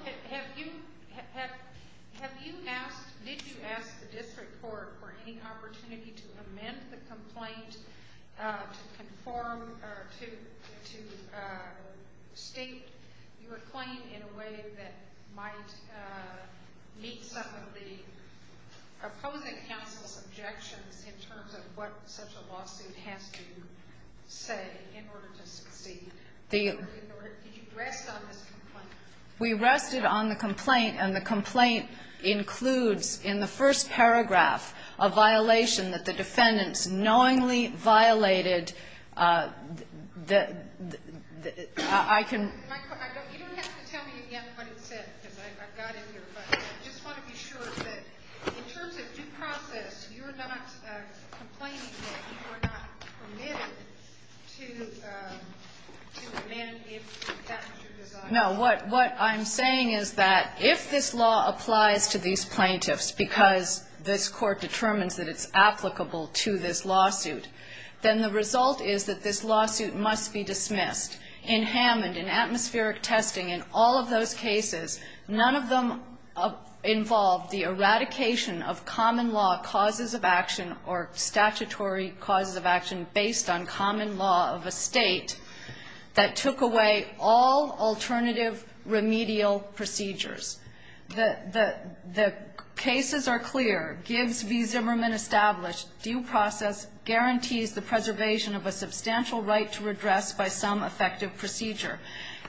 Did you ask the district court for any opportunity to amend the complaint to conform or to state your claim in a way that might meet some of the opposing counsel's objections in terms of what such a lawsuit has to say in order to be... We rested on the complaint, and the complaint includes in the first paragraph a violation that the defendants knowingly violated... No, what I'm saying is that if this law applies to these plaintiffs because this court determines that it's applicable to this lawsuit, then the result is that this lawsuit must be dismissed. In Hammond, in atmospheric testing, in all of those cases, none of them involved the eradication of common law causes of action or statutory causes of action based on common law of a state that took away all alternative remedial procedures. The cases are clear. Gibbs v. Zimmerman established due process guarantees the preservation of a substantial right to redress by some effective procedure.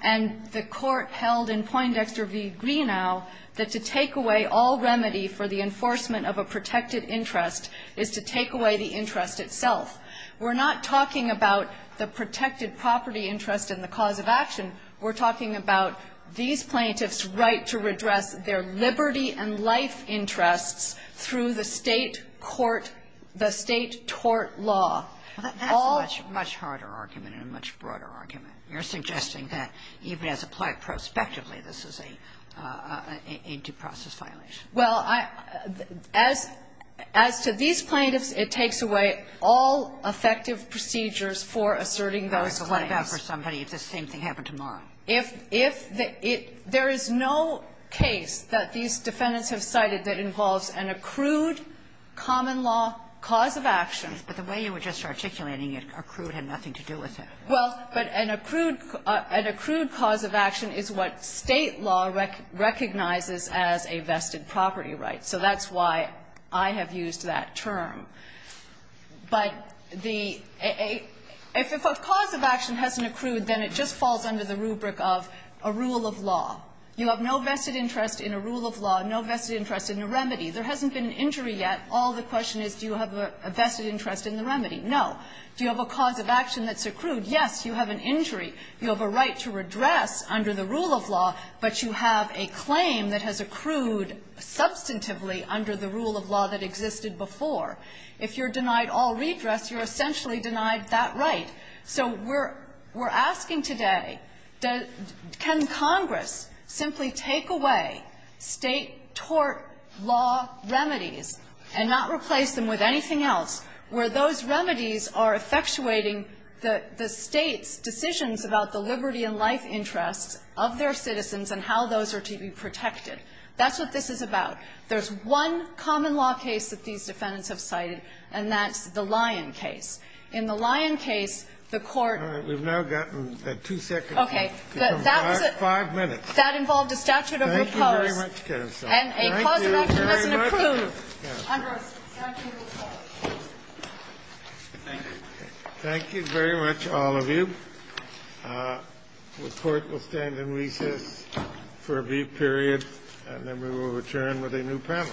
And the court held in Poindexter v. Greenau that to take away all remedy for the enforcement of a protected interest is to take away the interest itself. We're not talking about the protected property interest in the cause of action. We're talking about these plaintiffs' right to redress their liberty and life interests through the state tort law. That's a much harder argument and a much broader argument. You're suggesting that, even as applied prospectively, this is a due process violation. Well, as to these plaintiffs, it takes away all effective procedures for asserting those rights. What about for somebody if the same thing happened tomorrow? There is no case that these defendants have cited that involves an accrued common law cause of action. But the way you were just articulating it, accrued had nothing to do with it. Well, but an accrued cause of action is what state law recognizes as a vested property right. So that's why I have used that term. But if a cause of action hasn't accrued, then it just falls under the rubric of a rule of law. You have no vested interest in a rule of law, no vested interest in a remedy. There hasn't been an injury yet. All the question is, do you have a vested interest in the remedy? No. Do you have a cause of action that's accrued? Yes, you have an injury. You have a right to redress under the rule of law, but you have a claim that has accrued substantively under the rule of law that existed before. If you're denied all redress, you're essentially denied that right. So we're asking today, can Congress simply take away state tort law remedies and not replace them with anything else, where those remedies are effectuating the state's decisions about the liberty and life interest of their citizens and how those are to be protected? That's what this is about. There's one common law case that these defendants have cited, and that's the Lyon case. In the Lyon case, the court... All right, we've now gotten two seconds. Okay. Five minutes. That involved a statute of recourse and a cause of action that's accrued under the statute of recourse. Thank you very much, all of you. The court will stand in recess for a brief period, and then we will return with a new panel.